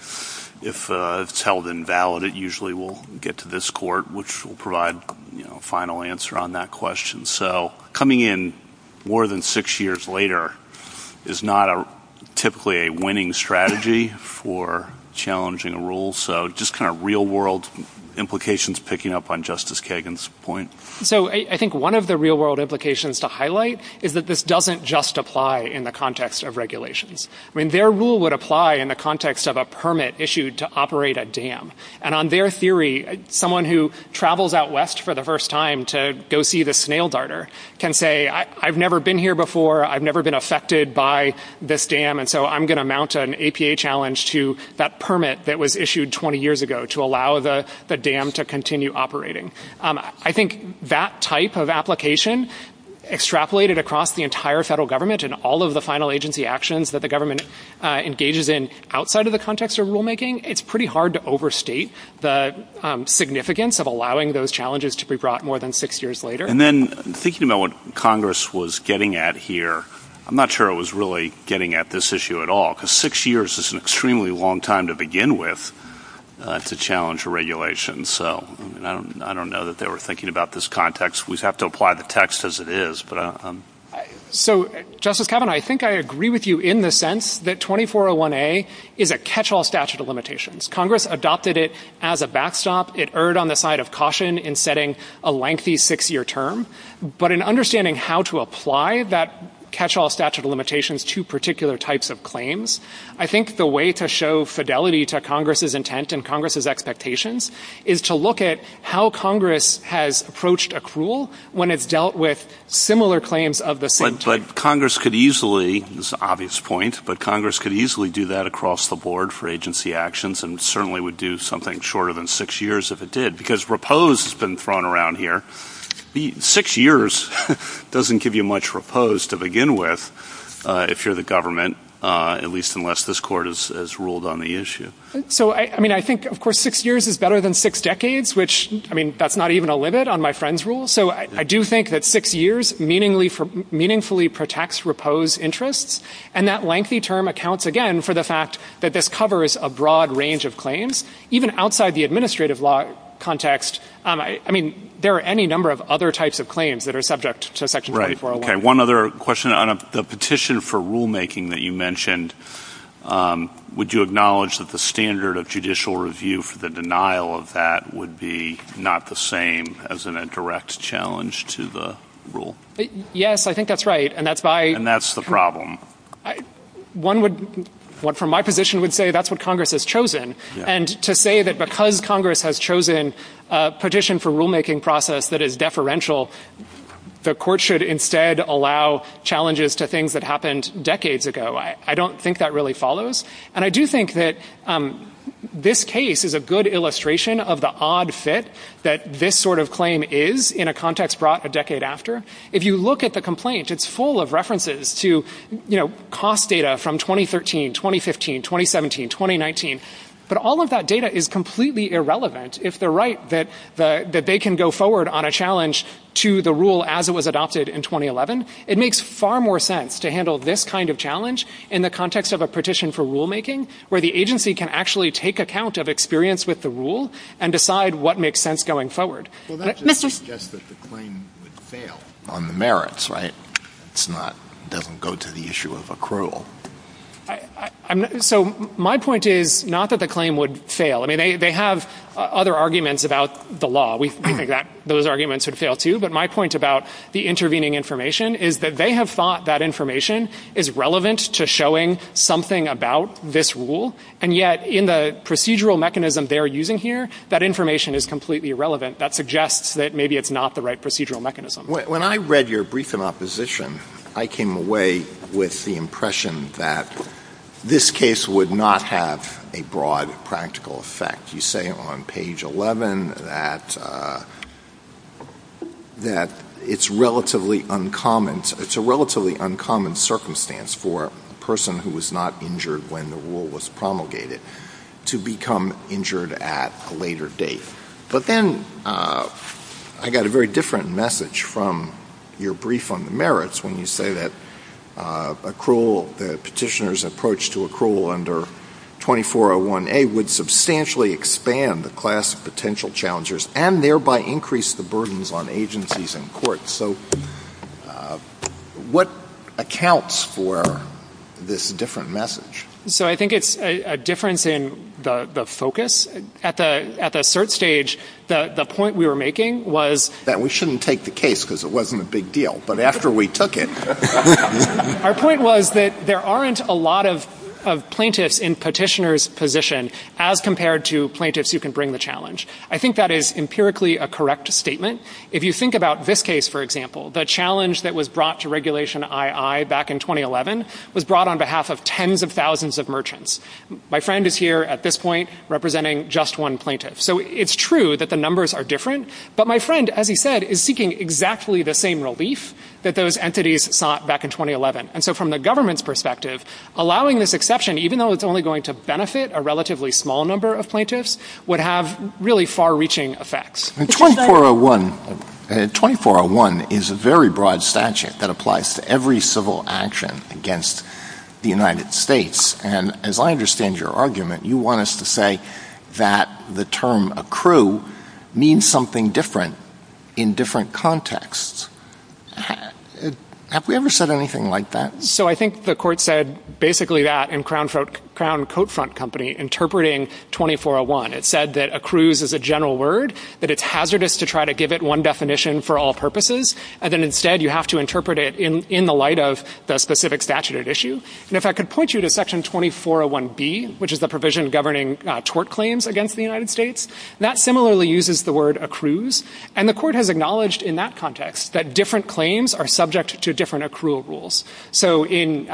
if it's held invalid, it usually will get to this court, which will provide a final answer on that question. So, coming in more than six years later is not typically a winning strategy for challenging a rule. So, just kind of real-world implications picking up on Justice Kagan's point. So, I think one of the real-world implications to highlight is that this doesn't just apply in the context of regulations. I mean, their rule would apply in the context of a permit issued to operate a dam. And on their theory, someone who travels out west for the first time to go see the snail darter can say, I've never been here before, I've never been affected by this dam, and so I'm going to mount an APA challenge to that permit that was issued 20 years ago to allow the dam to continue operating. I think that type of application extrapolated across the entire federal government and all of the final agency actions that the government engages in outside of the context of rulemaking, it's pretty hard to overstate the significance of allowing those challenges to be brought more than six years later. And then, thinking about what Congress was getting at here, I'm not sure it was really getting at this issue at all, because six years is an extremely long time to begin with to challenge a regulation. So I don't know that they were thinking about this context. We just have to apply the text as it is. So, Justice Kavanaugh, I think I agree with you in the sense that 2401A is a catch-all statute of limitations. Congress adopted it as a backstop. It erred on the side of caution in setting a lengthy six-year term. But in understanding how to apply that catch-all statute of limitations to particular types of claims, I think the way to show fidelity to Congress's intent and Congress's expectations is to look at how Congress has approached accrual when it's dealt with similar claims of the same type. But Congress could easily, this is an obvious point, but Congress could easily do that across the board for agency actions and certainly would do something shorter than six years if it did, because repose has been thrown around here. Six years doesn't give you much repose to begin with if you're the government, at least unless this Court has ruled on the issue. So, I mean, I think, of course, six years is better than six decades, which, I mean, that's not even a limit on my friend's rule. So I do think that six years meaningfully protects repose interests, and that lengthy term accounts, again, for the fact that this covers a broad range of claims, even outside the administrative law context. I mean, there are any number of other types of claims that are subject to Section 2401A. Okay, one other question. On the petition for rulemaking that you mentioned, would you acknowledge that the standard of judicial review for the denial of that would be not the same as in a direct challenge to the rule? Yes, I think that's right, and that's why... And that's the problem. One would, from my position, would say that's what Congress has chosen, and to say that because Congress has chosen a petition for rulemaking process that is deferential, the court should instead allow challenges to things that happened decades ago, I don't think that really follows. And I do think that this case is a good illustration of the odd fit that this sort of claim is in a context brought a decade after. If you look at the complaint, it's full of references to, you know, cost data from 2013, 2015, 2017, 2019, but all of that data is completely irrelevant. If they're right that they can go forward on a challenge to the rule as it was adopted in 2011, it makes far more sense to handle this kind of challenge in the context of a petition for rulemaking, where the agency can actually take account of experience with the rule and decide what makes sense going forward. Well, that doesn't suggest that the claim would fail on the merits, right? It doesn't go to the issue of accrual. So my point is not that the claim would fail. I mean, they have other arguments about the law. We think that those arguments would fail, too. But my point about the intervening information is that they have thought that information is relevant to showing something about this rule, and yet in the procedural mechanism they're using here, that information is completely irrelevant. That suggests that maybe it's not the right procedural mechanism. When I read your brief in opposition, I came away with the impression that this case would not have a broad practical effect. You say on page 11 that it's a relatively uncommon circumstance for a person who was not injured when the rule was promulgated to become injured at a later date. But then I got a very different message from your brief on the merits when you say that the petitioner's approach to accrual under 2401A would substantially expand the class of potential challengers and thereby increase the burdens on agencies and courts. So what accounts for this different message? So I think it's a difference in the focus. At the cert stage, the point we were making was that we shouldn't take the case because it wasn't a big deal. But after we took it, our point was that there aren't a lot of plaintiffs in petitioner's position as compared to plaintiffs who can bring the challenge. I think that is empirically a correct statement. If you think about this case, for example, the challenge that was brought to Regulation II back in 2011 was brought on behalf of tens of thousands of merchants. My friend is here at this point representing just one plaintiff. So it's true that the numbers are different. But my friend, as he said, is seeking exactly the same relief that those entities sought back in 2011. And so from the government's perspective, allowing this exception, even though it's only going to benefit a relatively small number of plaintiffs, would have really far-reaching effects. 2401 is a very broad statute that applies to every civil action against the United States. And as I understand your argument, you want us to say that the term accrue means something different in different contexts. Have we ever said anything like that? So I think the court said basically that in Crown Coat Front Company interpreting 2401. It said that accrues is a general word, that it's hazardous to try to give it one definition for all purposes, and then instead you have to interpret it in the light of the specific statute at issue. And if I could point you to Section 2401B, which is a provision governing tort claims against the United States, that similarly uses the word accrues. And the court has acknowledged in that context that different claims are subject to different accrual rules. So in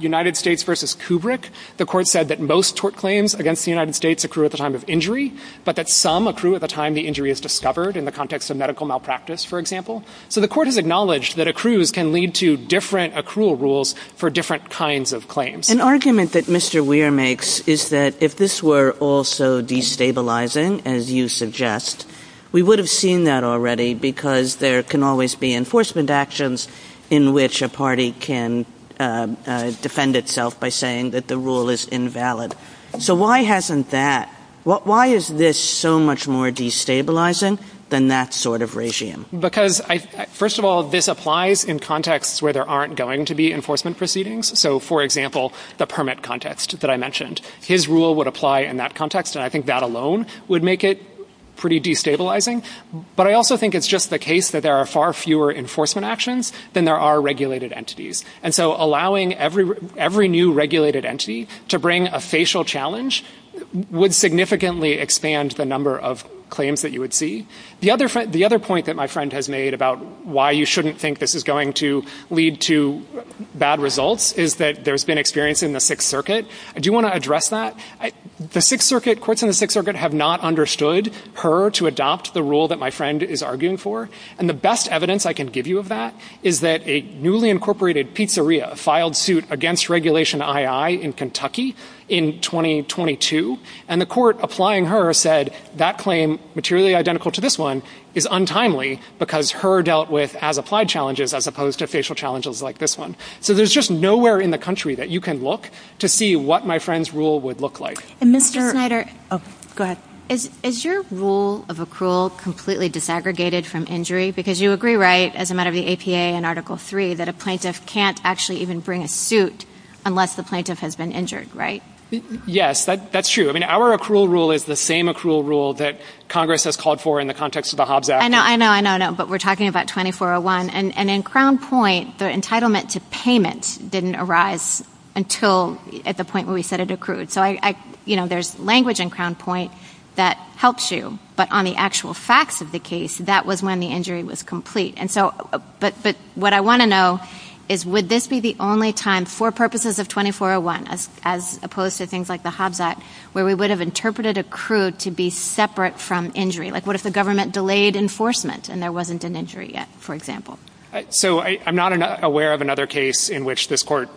United States v. Kubrick, the court said that most tort claims against the United States accrue at the time of injury, but that some accrue at the time the injury is discovered in the context of medical malpractice, for example. So the court has acknowledged that accrues can lead to different accrual rules for different kinds of claims. An argument that Mr. Weir makes is that if this were also destabilizing, as you suggest, we would have seen that already because there can always be enforcement actions in which a party can defend itself by saying that the rule is invalid. So why hasn't that, why is this so much more destabilizing than that sort of regime? Because, first of all, this applies in contexts where there aren't going to be enforcement proceedings. So, for example, the permit context that I mentioned. His rule would apply in that context, and I think that alone would make it pretty destabilizing. But I also think it's just the case that there are far fewer enforcement actions than there are regulated entities. And so allowing every new regulated entity to bring a facial challenge would significantly expand the number of claims that you would see. The other point that my friend has made about why you shouldn't think this is going to lead to bad results is that there's been experience in the Sixth Circuit. Do you want to address that? The Sixth Circuit, courts in the Sixth Circuit have not understood her to adopt the rule that my friend is arguing for. And the best evidence I can give you of that is that a newly incorporated pizzeria filed suit against Regulation II in Kentucky in 2022. And the court applying her said that claim, materially identical to this one, is untimely because her dealt with as-applied challenges as opposed to facial challenges like this one. So there's just nowhere in the country that you can look to see what my friend's rule would look like. And Mr. Schneider, is your rule of accrual completely disaggregated from injury? Because you agree, right, as a matter of the APA in Article III, that a plaintiff can't actually even bring a suit unless the plaintiff has been injured, right? Yes, that's true. I mean, our accrual rule is the same accrual rule that Congress has called for in the context of the Hobbs Act. I know, I know, I know, but we're talking about 2401. And in Crown Point, the entitlement to payment didn't arise until at the point where we said it accrued. So, you know, there's language in Crown Point that helps you. But on the actual facts of the case, that was when the injury was complete. And so, but what I want to know is would this be the only time for purposes of 2401, as opposed to things like the Hobbs Act, where we would have interpreted accrued to be separate from injury? Like, what if the government delayed enforcement and there wasn't an injury yet, for example? So I'm not aware of another case in which this court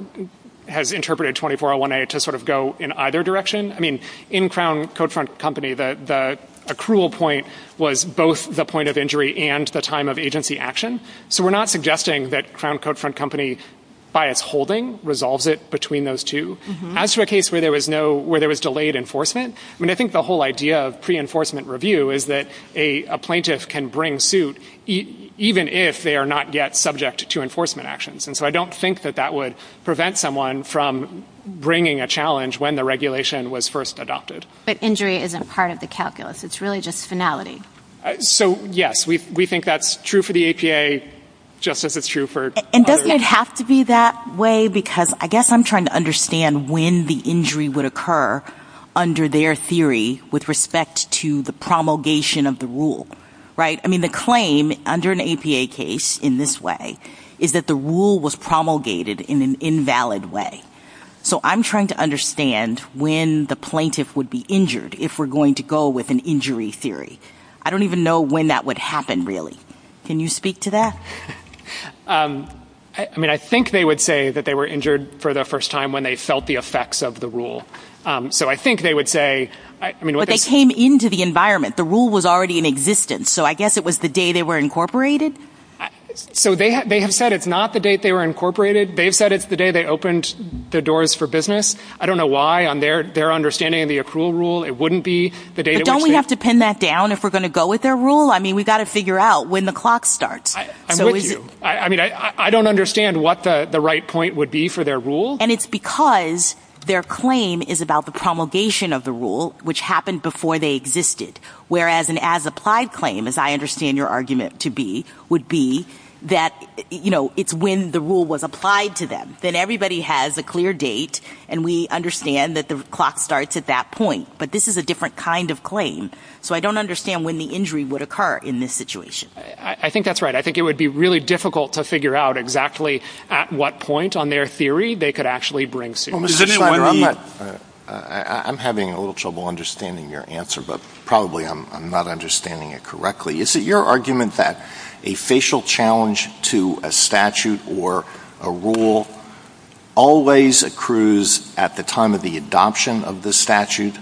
has interpreted 2401A to sort of go in either direction. I mean, in Crown Codefront Company, the accrual point was both the point of injury and the time of agency action. So we're not suggesting that Crown Codefront Company, by its holding, resolves it between those two. As for a case where there was no, where there was delayed enforcement, I mean, I think the whole idea of pre-enforcement review is that a plaintiff can bring suit, even if they are not yet subject to enforcement actions. And so I don't think that that would prevent someone from bringing a challenge when the regulation was first adopted. But injury isn't part of the calculus. It's really just finality. So, yes, we think that's true for the APA, just as it's true for others. I think it has to be that way because I guess I'm trying to understand when the injury would occur under their theory with respect to the promulgation of the rule, right? I mean, the claim under an APA case in this way is that the rule was promulgated in an invalid way. So I'm trying to understand when the plaintiff would be injured if we're going to go with an injury theory. I don't even know when that would happen, really. Can you speak to that? I mean, I think they would say that they were injured for the first time when they felt the effects of the rule. So I think they would say – But they came into the environment. The rule was already in existence. So I guess it was the day they were incorporated? So they have said it's not the date they were incorporated. They've said it's the day they opened the doors for business. I don't know why, on their understanding of the accrual rule, it wouldn't be the day – But don't we have to pin that down if we're going to go with their rule? I mean, we've got to figure out when the clock starts. I'm with you. I mean, I don't understand what the right point would be for their rule. And it's because their claim is about the promulgation of the rule, which happened before they existed. Whereas an as-applied claim, as I understand your argument to be, would be that it's when the rule was applied to them. Then everybody has a clear date, and we understand that the clock starts at that point. But this is a different kind of claim. So I don't understand when the injury would occur in this situation. I think that's right. I think it would be really difficult to figure out exactly at what point, on their theory, they could actually bring suit. I'm having a little trouble understanding your answer, but probably I'm not understanding it correctly. Is it your argument that a facial challenge to a statute or a rule always accrues at the time of the adoption of the statute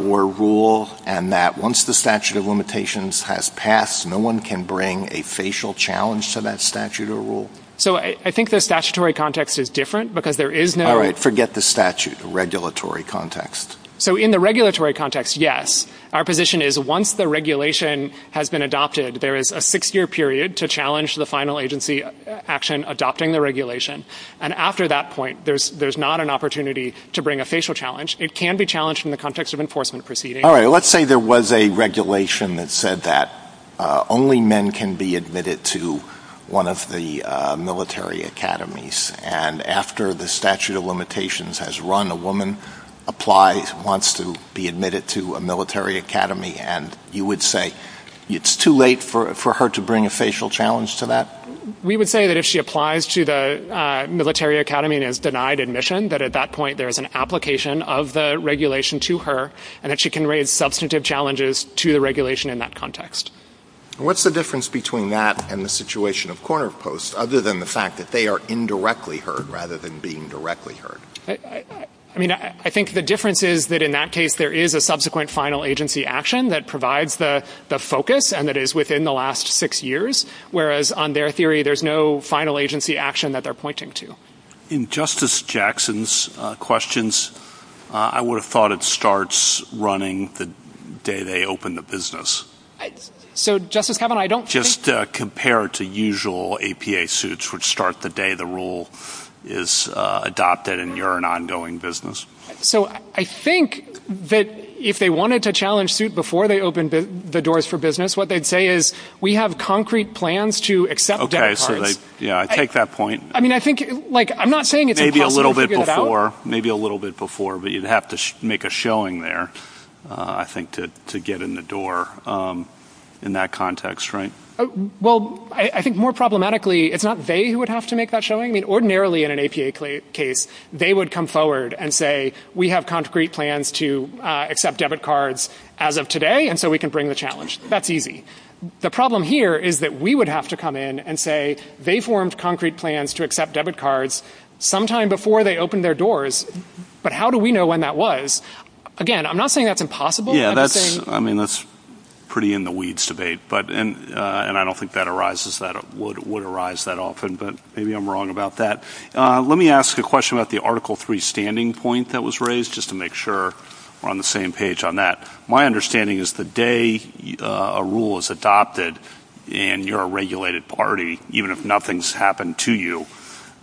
or rule, and that once the statute of limitations has passed, no one can bring a facial challenge to that statute or rule? So I think the statutory context is different, because there is no – All right. Forget the statute. Regulatory context. So in the regulatory context, yes. Our position is once the regulation has been adopted, there is a six-year period to challenge the final agency action adopting the regulation. And after that point, there's not an opportunity to bring a facial challenge. It can be challenged in the context of enforcement proceedings. All right. Let's say there was a regulation that said that only men can be admitted to one of the military academies. And after the statute of limitations has run, a woman applies, wants to be admitted to a military academy, and you would say it's too late for her to bring a facial challenge to that? We would say that if she applies to the military academy and is denied admission, that at that point there is an application of the regulation to her, and that she can raise substantive challenges to the regulation in that context. What's the difference between that and the situation of corner posts, other than the fact that they are indirectly heard rather than being directly heard? I mean, I think the difference is that in that case there is a subsequent final agency action that provides the focus and that is within the last six years, whereas on their theory there's no final agency action that they're pointing to. In Justice Jackson's questions, I would have thought it starts running the day they open the business. So, Justice Kavanaugh, I don't think... Just compare it to usual APA suits which start the day the rule is adopted and you're an ongoing business. So, I think that if they wanted to challenge suit before they opened the doors for business, what they'd say is, we have concrete plans to accept... Okay, so they, yeah, I take that point. I mean, I think, like, I'm not saying it's... Maybe a little bit before, maybe a little bit before, but you'd have to make a showing there, I think, to get in the door in that context, right? Well, I think more problematically, it's not they who would have to make that showing. I mean, ordinarily in an APA case, they would come forward and say, we have concrete plans to accept debit cards as of today and so we can bring the challenge. That's easy. The problem here is that we would have to come in and say, they formed concrete plans to accept debit cards sometime before they opened their doors, but how do we know when that was? Again, I'm not saying that's impossible. Yeah, I mean, that's pretty in the weeds debate, and I don't think that would arise that often, but maybe I'm wrong about that. Let me ask a question about the Article 3 standing point that was raised, just to make sure we're on the same page on that. My understanding is the day a rule is adopted and you're a regulated party, even if nothing's happened to you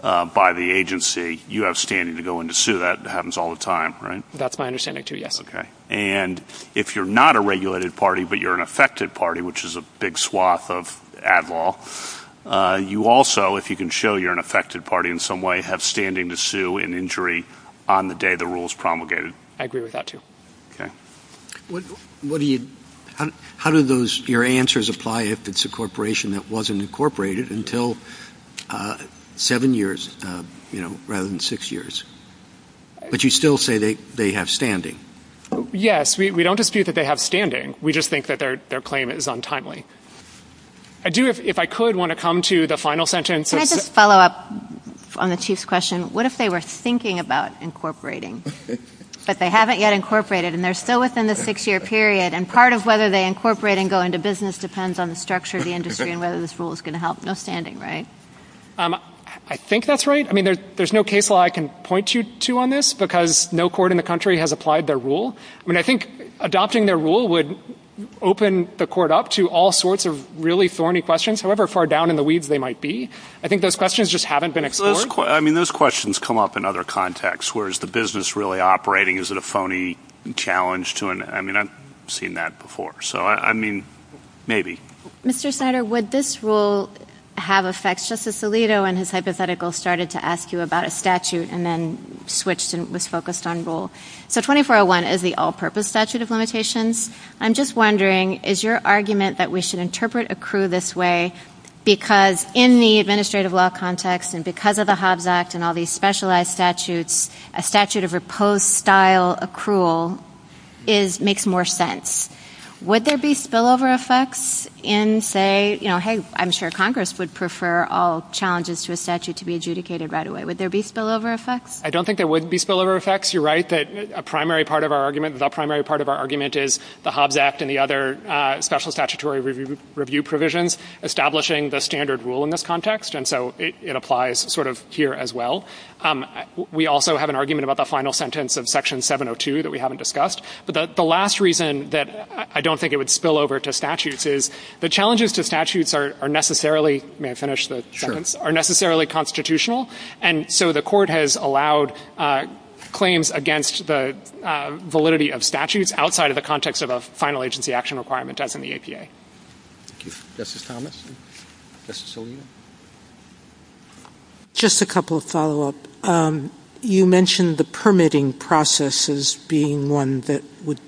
by the agency, you have standing to go into suit. That happens all the time, right? That's my understanding, too, yes. Okay. And if you're not a regulated party but you're an affected party, which is a big swath of ad law, you also, if you can show you're an affected party in some way, have standing to sue in injury on the day the rule is promulgated. I agree with that, too. Okay. How do your answers apply if it's a corporation that wasn't incorporated until seven years, you know, rather than six years? But you still say they have standing. Yes. We don't dispute that they have standing. We just think that their claim is untimely. I do, if I could, want to come to the final sentence. Can I just follow up on the chief's question? What if they were thinking about incorporating, but they haven't yet incorporated and they're still within the six-year period, and part of whether they incorporate and go into business depends on the structure of the industry and whether this rule is going to help. No standing, right? I think that's right. I mean, there's no case law I can point you to on this because no court in the country has applied their rule. I mean, I think adopting their rule would open the court up to all sorts of really thorny questions, however far down in the weeds they might be. I think those questions just haven't been explored. I mean, those questions come up in other contexts. Where is the business really operating? Is it a phony challenge to it? I mean, I've seen that before. So, I mean, maybe. Mr. Snyder, would this rule have effects? Justice Alito in his hypothetical started to ask you about a statute and then switched and was focused on rule. So, 2401 is the all-purpose statute of limitations. I'm just wondering, is your argument that we should interpret accrue this way because in the administrative law context and because of the Hobbs Act and all these specialized statutes, a statute of repose-style accrual makes more sense. Would there be spillover effects in say, you know, hey, I'm sure Congress would prefer all challenges to a statute to be adjudicated right away. Would there be spillover effects? I don't think there would be spillover effects. You're right that a primary part of our argument, the primary part of our argument is the Hobbs Act and the other special statutory review provisions establishing the standard rule in this context, and so it applies sort of here as well. We also have an argument about the final sentence of Section 702 that we haven't discussed. But the last reason that I don't think it would spill over to statutes is the challenges to statutes are necessarily, may I finish the sentence, are necessarily constitutional, and so the court has allowed claims against the validity of statutes outside of the context of a final agency action requirement as in the EPA. Thank you. Justice Thomas? Justice O'Neill? Just a couple of follow-up. You mentioned the permitting processes being one that would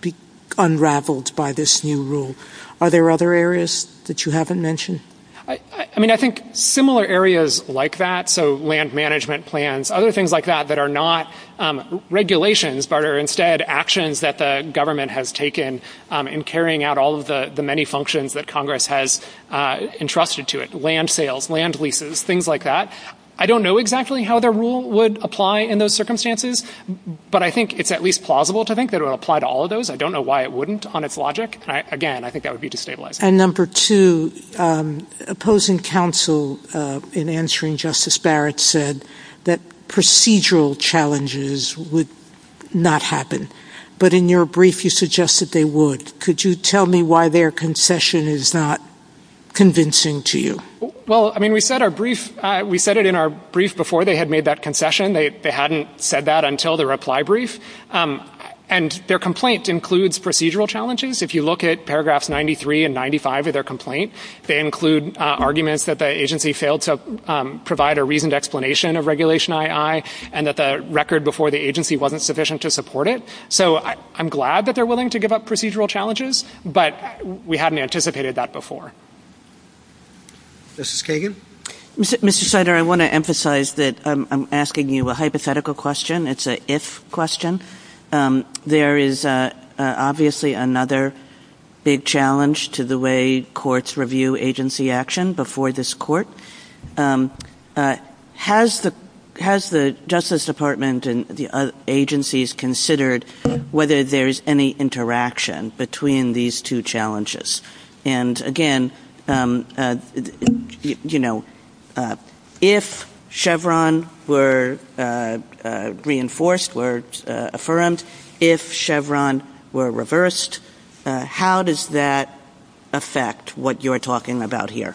be unraveled by this new rule. Are there other areas that you haven't mentioned? I mean, I think similar areas like that, so land management plans, other things like that that are not regulations but are instead actions that the government has taken in carrying out all of the many functions that Congress has entrusted to it, land sales, land leases, things like that. I don't know exactly how the rule would apply in those circumstances, but I think it's at least plausible to think that it would apply to all of those. I don't know why it wouldn't on its logic. Again, I think that would be destabilizing. And number two, opposing counsel in answering Justice Barrett said that procedural challenges would not happen, but in your brief you suggested they would. Could you tell me why their concession is not convincing to you? Well, I mean, we said it in our brief before they had made that concession. They hadn't said that until the reply brief. And their complaint includes procedural challenges. If you look at paragraphs 93 and 95 of their complaint, they include arguments that the agency failed to provide a reasoned explanation of Regulation I.I. and that the record before the agency wasn't sufficient to support it. So I'm glad that they're willing to give up procedural challenges, but we hadn't anticipated that before. Mrs. Kagan? Mr. Snyder, I want to emphasize that I'm asking you a hypothetical question. It's an if question. There is obviously another big challenge to the way courts review agency action before this court. Has the Justice Department and the agencies considered whether there is any interaction between these two challenges? And, again, you know, if Chevron were reinforced or affirmed, if Chevron were reversed, how does that affect what you're talking about here?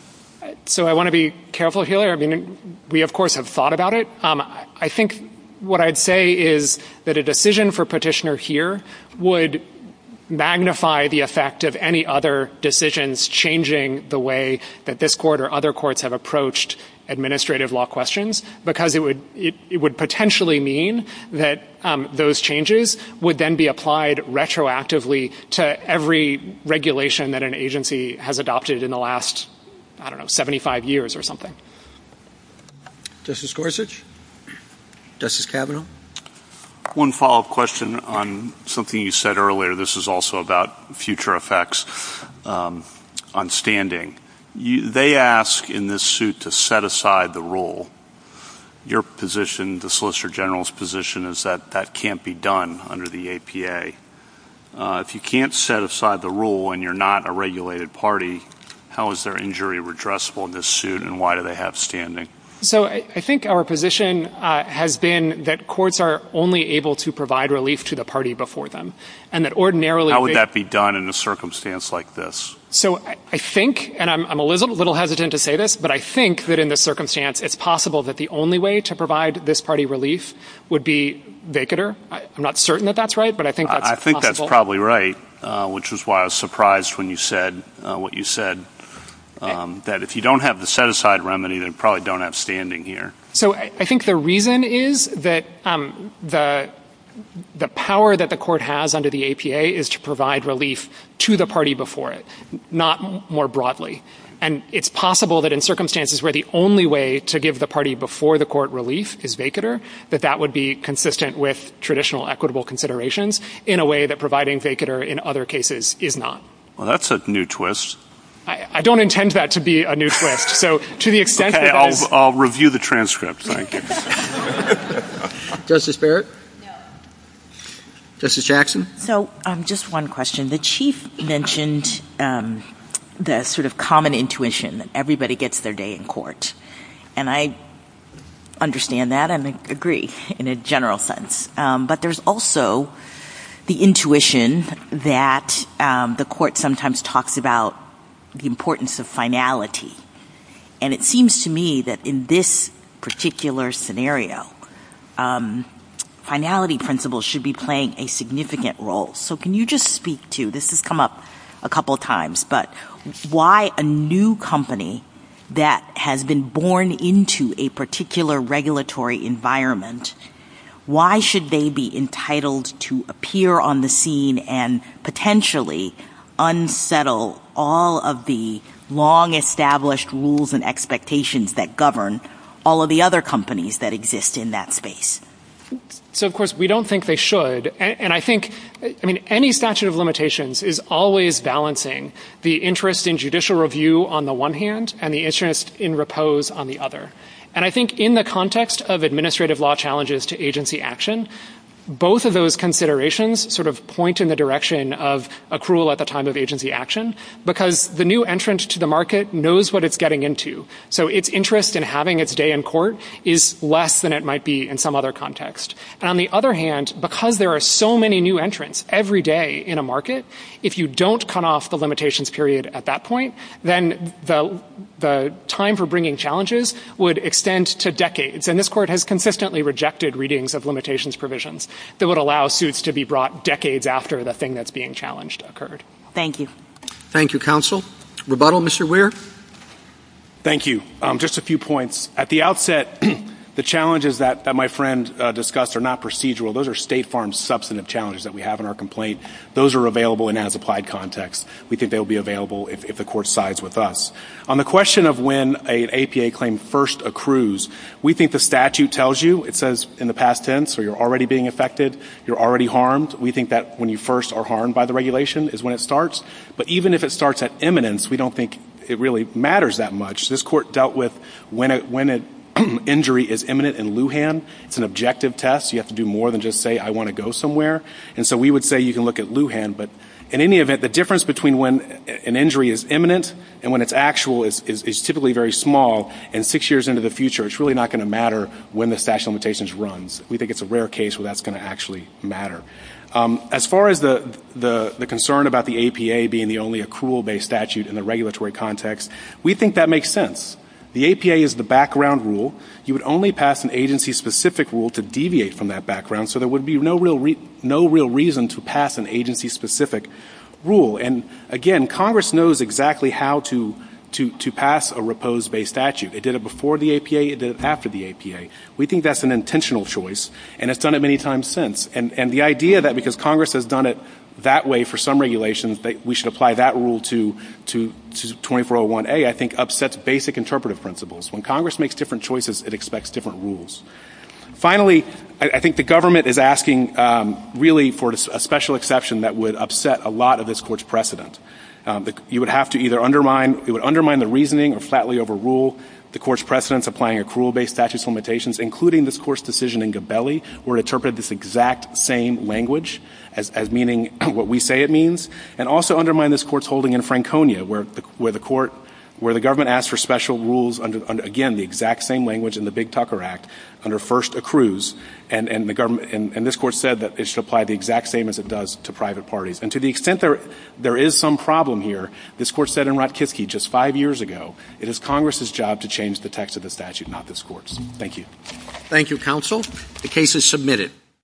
So I want to be careful here. I mean, we, of course, have thought about it. I think what I'd say is that a decision for petitioner here would magnify the effect of any other decisions changing the way that this court or other courts have approached administrative law questions because it would potentially mean that those changes would then be applied retroactively to every regulation that an agency has adopted in the last, I don't know, 75 years or something. Justice Gorsuch? Justice Kavanaugh? One follow-up question on something you said earlier. This is also about future effects on standing. They ask in this suit to set aside the rule. Your position, the Solicitor General's position, is that that can't be done under the APA. If you can't set aside the rule and you're not a regulated party, how is their injury redressable in this suit and why do they have standing? So I think our position has been that courts are only able to provide relief to the party before them, and that ordinarily they How would that be done in a circumstance like this? So I think, and I'm a little hesitant to say this, but I think that in this circumstance it's possible that the only way to provide this party relief would be vacater. I'm not certain that that's right, but I think that's possible. I think that's probably right, which is why I was surprised when you said what you said, that if you don't have the set-aside remedy, they probably don't have standing here. So I think the reason is that the power that the court has under the APA is to provide relief to the party before it, not more broadly. And it's possible that in circumstances where the only way to give the party before the court relief is vacater, that that would be consistent with traditional equitable considerations in a way that providing vacater in other cases is not. Well, that's a new twist. I don't intend that to be a new twist. So to the extent that I... Okay, I'll review the transcript, thank you. Justice Barrett? Justice Jackson? So just one question. The Chief mentioned the sort of common intuition that everybody gets their day in court. And I understand that and agree in a general sense. But there's also the intuition that the court sometimes talks about the importance of finality. And it seems to me that in this particular scenario, finality principles should be playing a significant role. So can you just speak to, this has come up a couple of times, but why a new company that has been born into a particular regulatory environment, why should they be entitled to appear on the scene and potentially unsettle all of the long-established rules and expectations that govern all of the other companies that exist in that space? So, of course, we don't think they should. And I think, I mean, any statute of limitations is always balancing the interest in judicial review on the one hand and the interest in repose on the other. And I think in the context of administrative law challenges to agency action, both of those considerations sort of point in the direction of accrual at the time of agency action, because the new entrant to the market knows what it's getting into. So its interest in having its day in court is less than it might be in some other context. And on the other hand, because there are so many new entrants every day in a market, if you don't cut off the limitations period at that point, then the time for bringing challenges would extend to decades. And this court has consistently rejected readings of limitations provisions that would allow suits to be brought decades after the thing that's being challenged occurred. Thank you. Thank you, counsel. Rebuttal, Mr. Weir? Thank you. Just a few points. At the outset, the challenges that my friend discussed are not procedural. Those are State Farm substantive challenges that we have in our complaint. Those are available in as-applied context. We think they will be available if the court sides with us. On the question of when an APA claim first accrues, we think the statute tells you. It says in the past tense, or you're already being affected, you're already harmed. We think that when you first are harmed by the regulation is when it starts. But even if it starts at imminence, we don't think it really matters that much. This court dealt with when an injury is imminent in Lujan. It's an objective test. You have to do more than just say, I want to go somewhere. And so we would say you can look at Lujan. But in any event, the difference between when an injury is imminent and when it's actual is typically very small. And six years into the future, it's really not going to matter when the statute of limitations runs. We think it's a rare case where that's going to actually matter. As far as the concern about the APA being the only accrual-based statute in the regulatory context, we think that makes sense. The APA is the background rule. You would only pass an agency-specific rule to deviate from that background, so there would be no real reason to pass an agency-specific rule. And, again, Congress knows exactly how to pass a repose-based statute. It did it before the APA. It did it after the APA. We think that's an intentional choice, and it's done it many times since. And the idea that because Congress has done it that way for some regulations, that we should apply that rule to 2401A, I think, upsets basic interpretive principles. When Congress makes different choices, it expects different rules. Finally, I think the government is asking, really, for a special exception that would upset a lot of this Court's precedent. You would have to either undermine the reasoning or flatly overrule the Court's precedents applying accrual-based statute of limitations, including this Court's decision in Gabelli, where it interpreted this exact same language as meaning what we say it means, and also undermine this Court's holding in Franconia, where the government asked for special rules under, again, the exact same language in the Big Tucker Act, under first accrues, and this Court said that it should apply the exact same as it does to private parties. And to the extent there is some problem here, this Court said in Ratkiski just five years ago, it is Congress's job to change the text of the statute, not this Court's. Thank you. Thank you, Counsel. The case is submitted.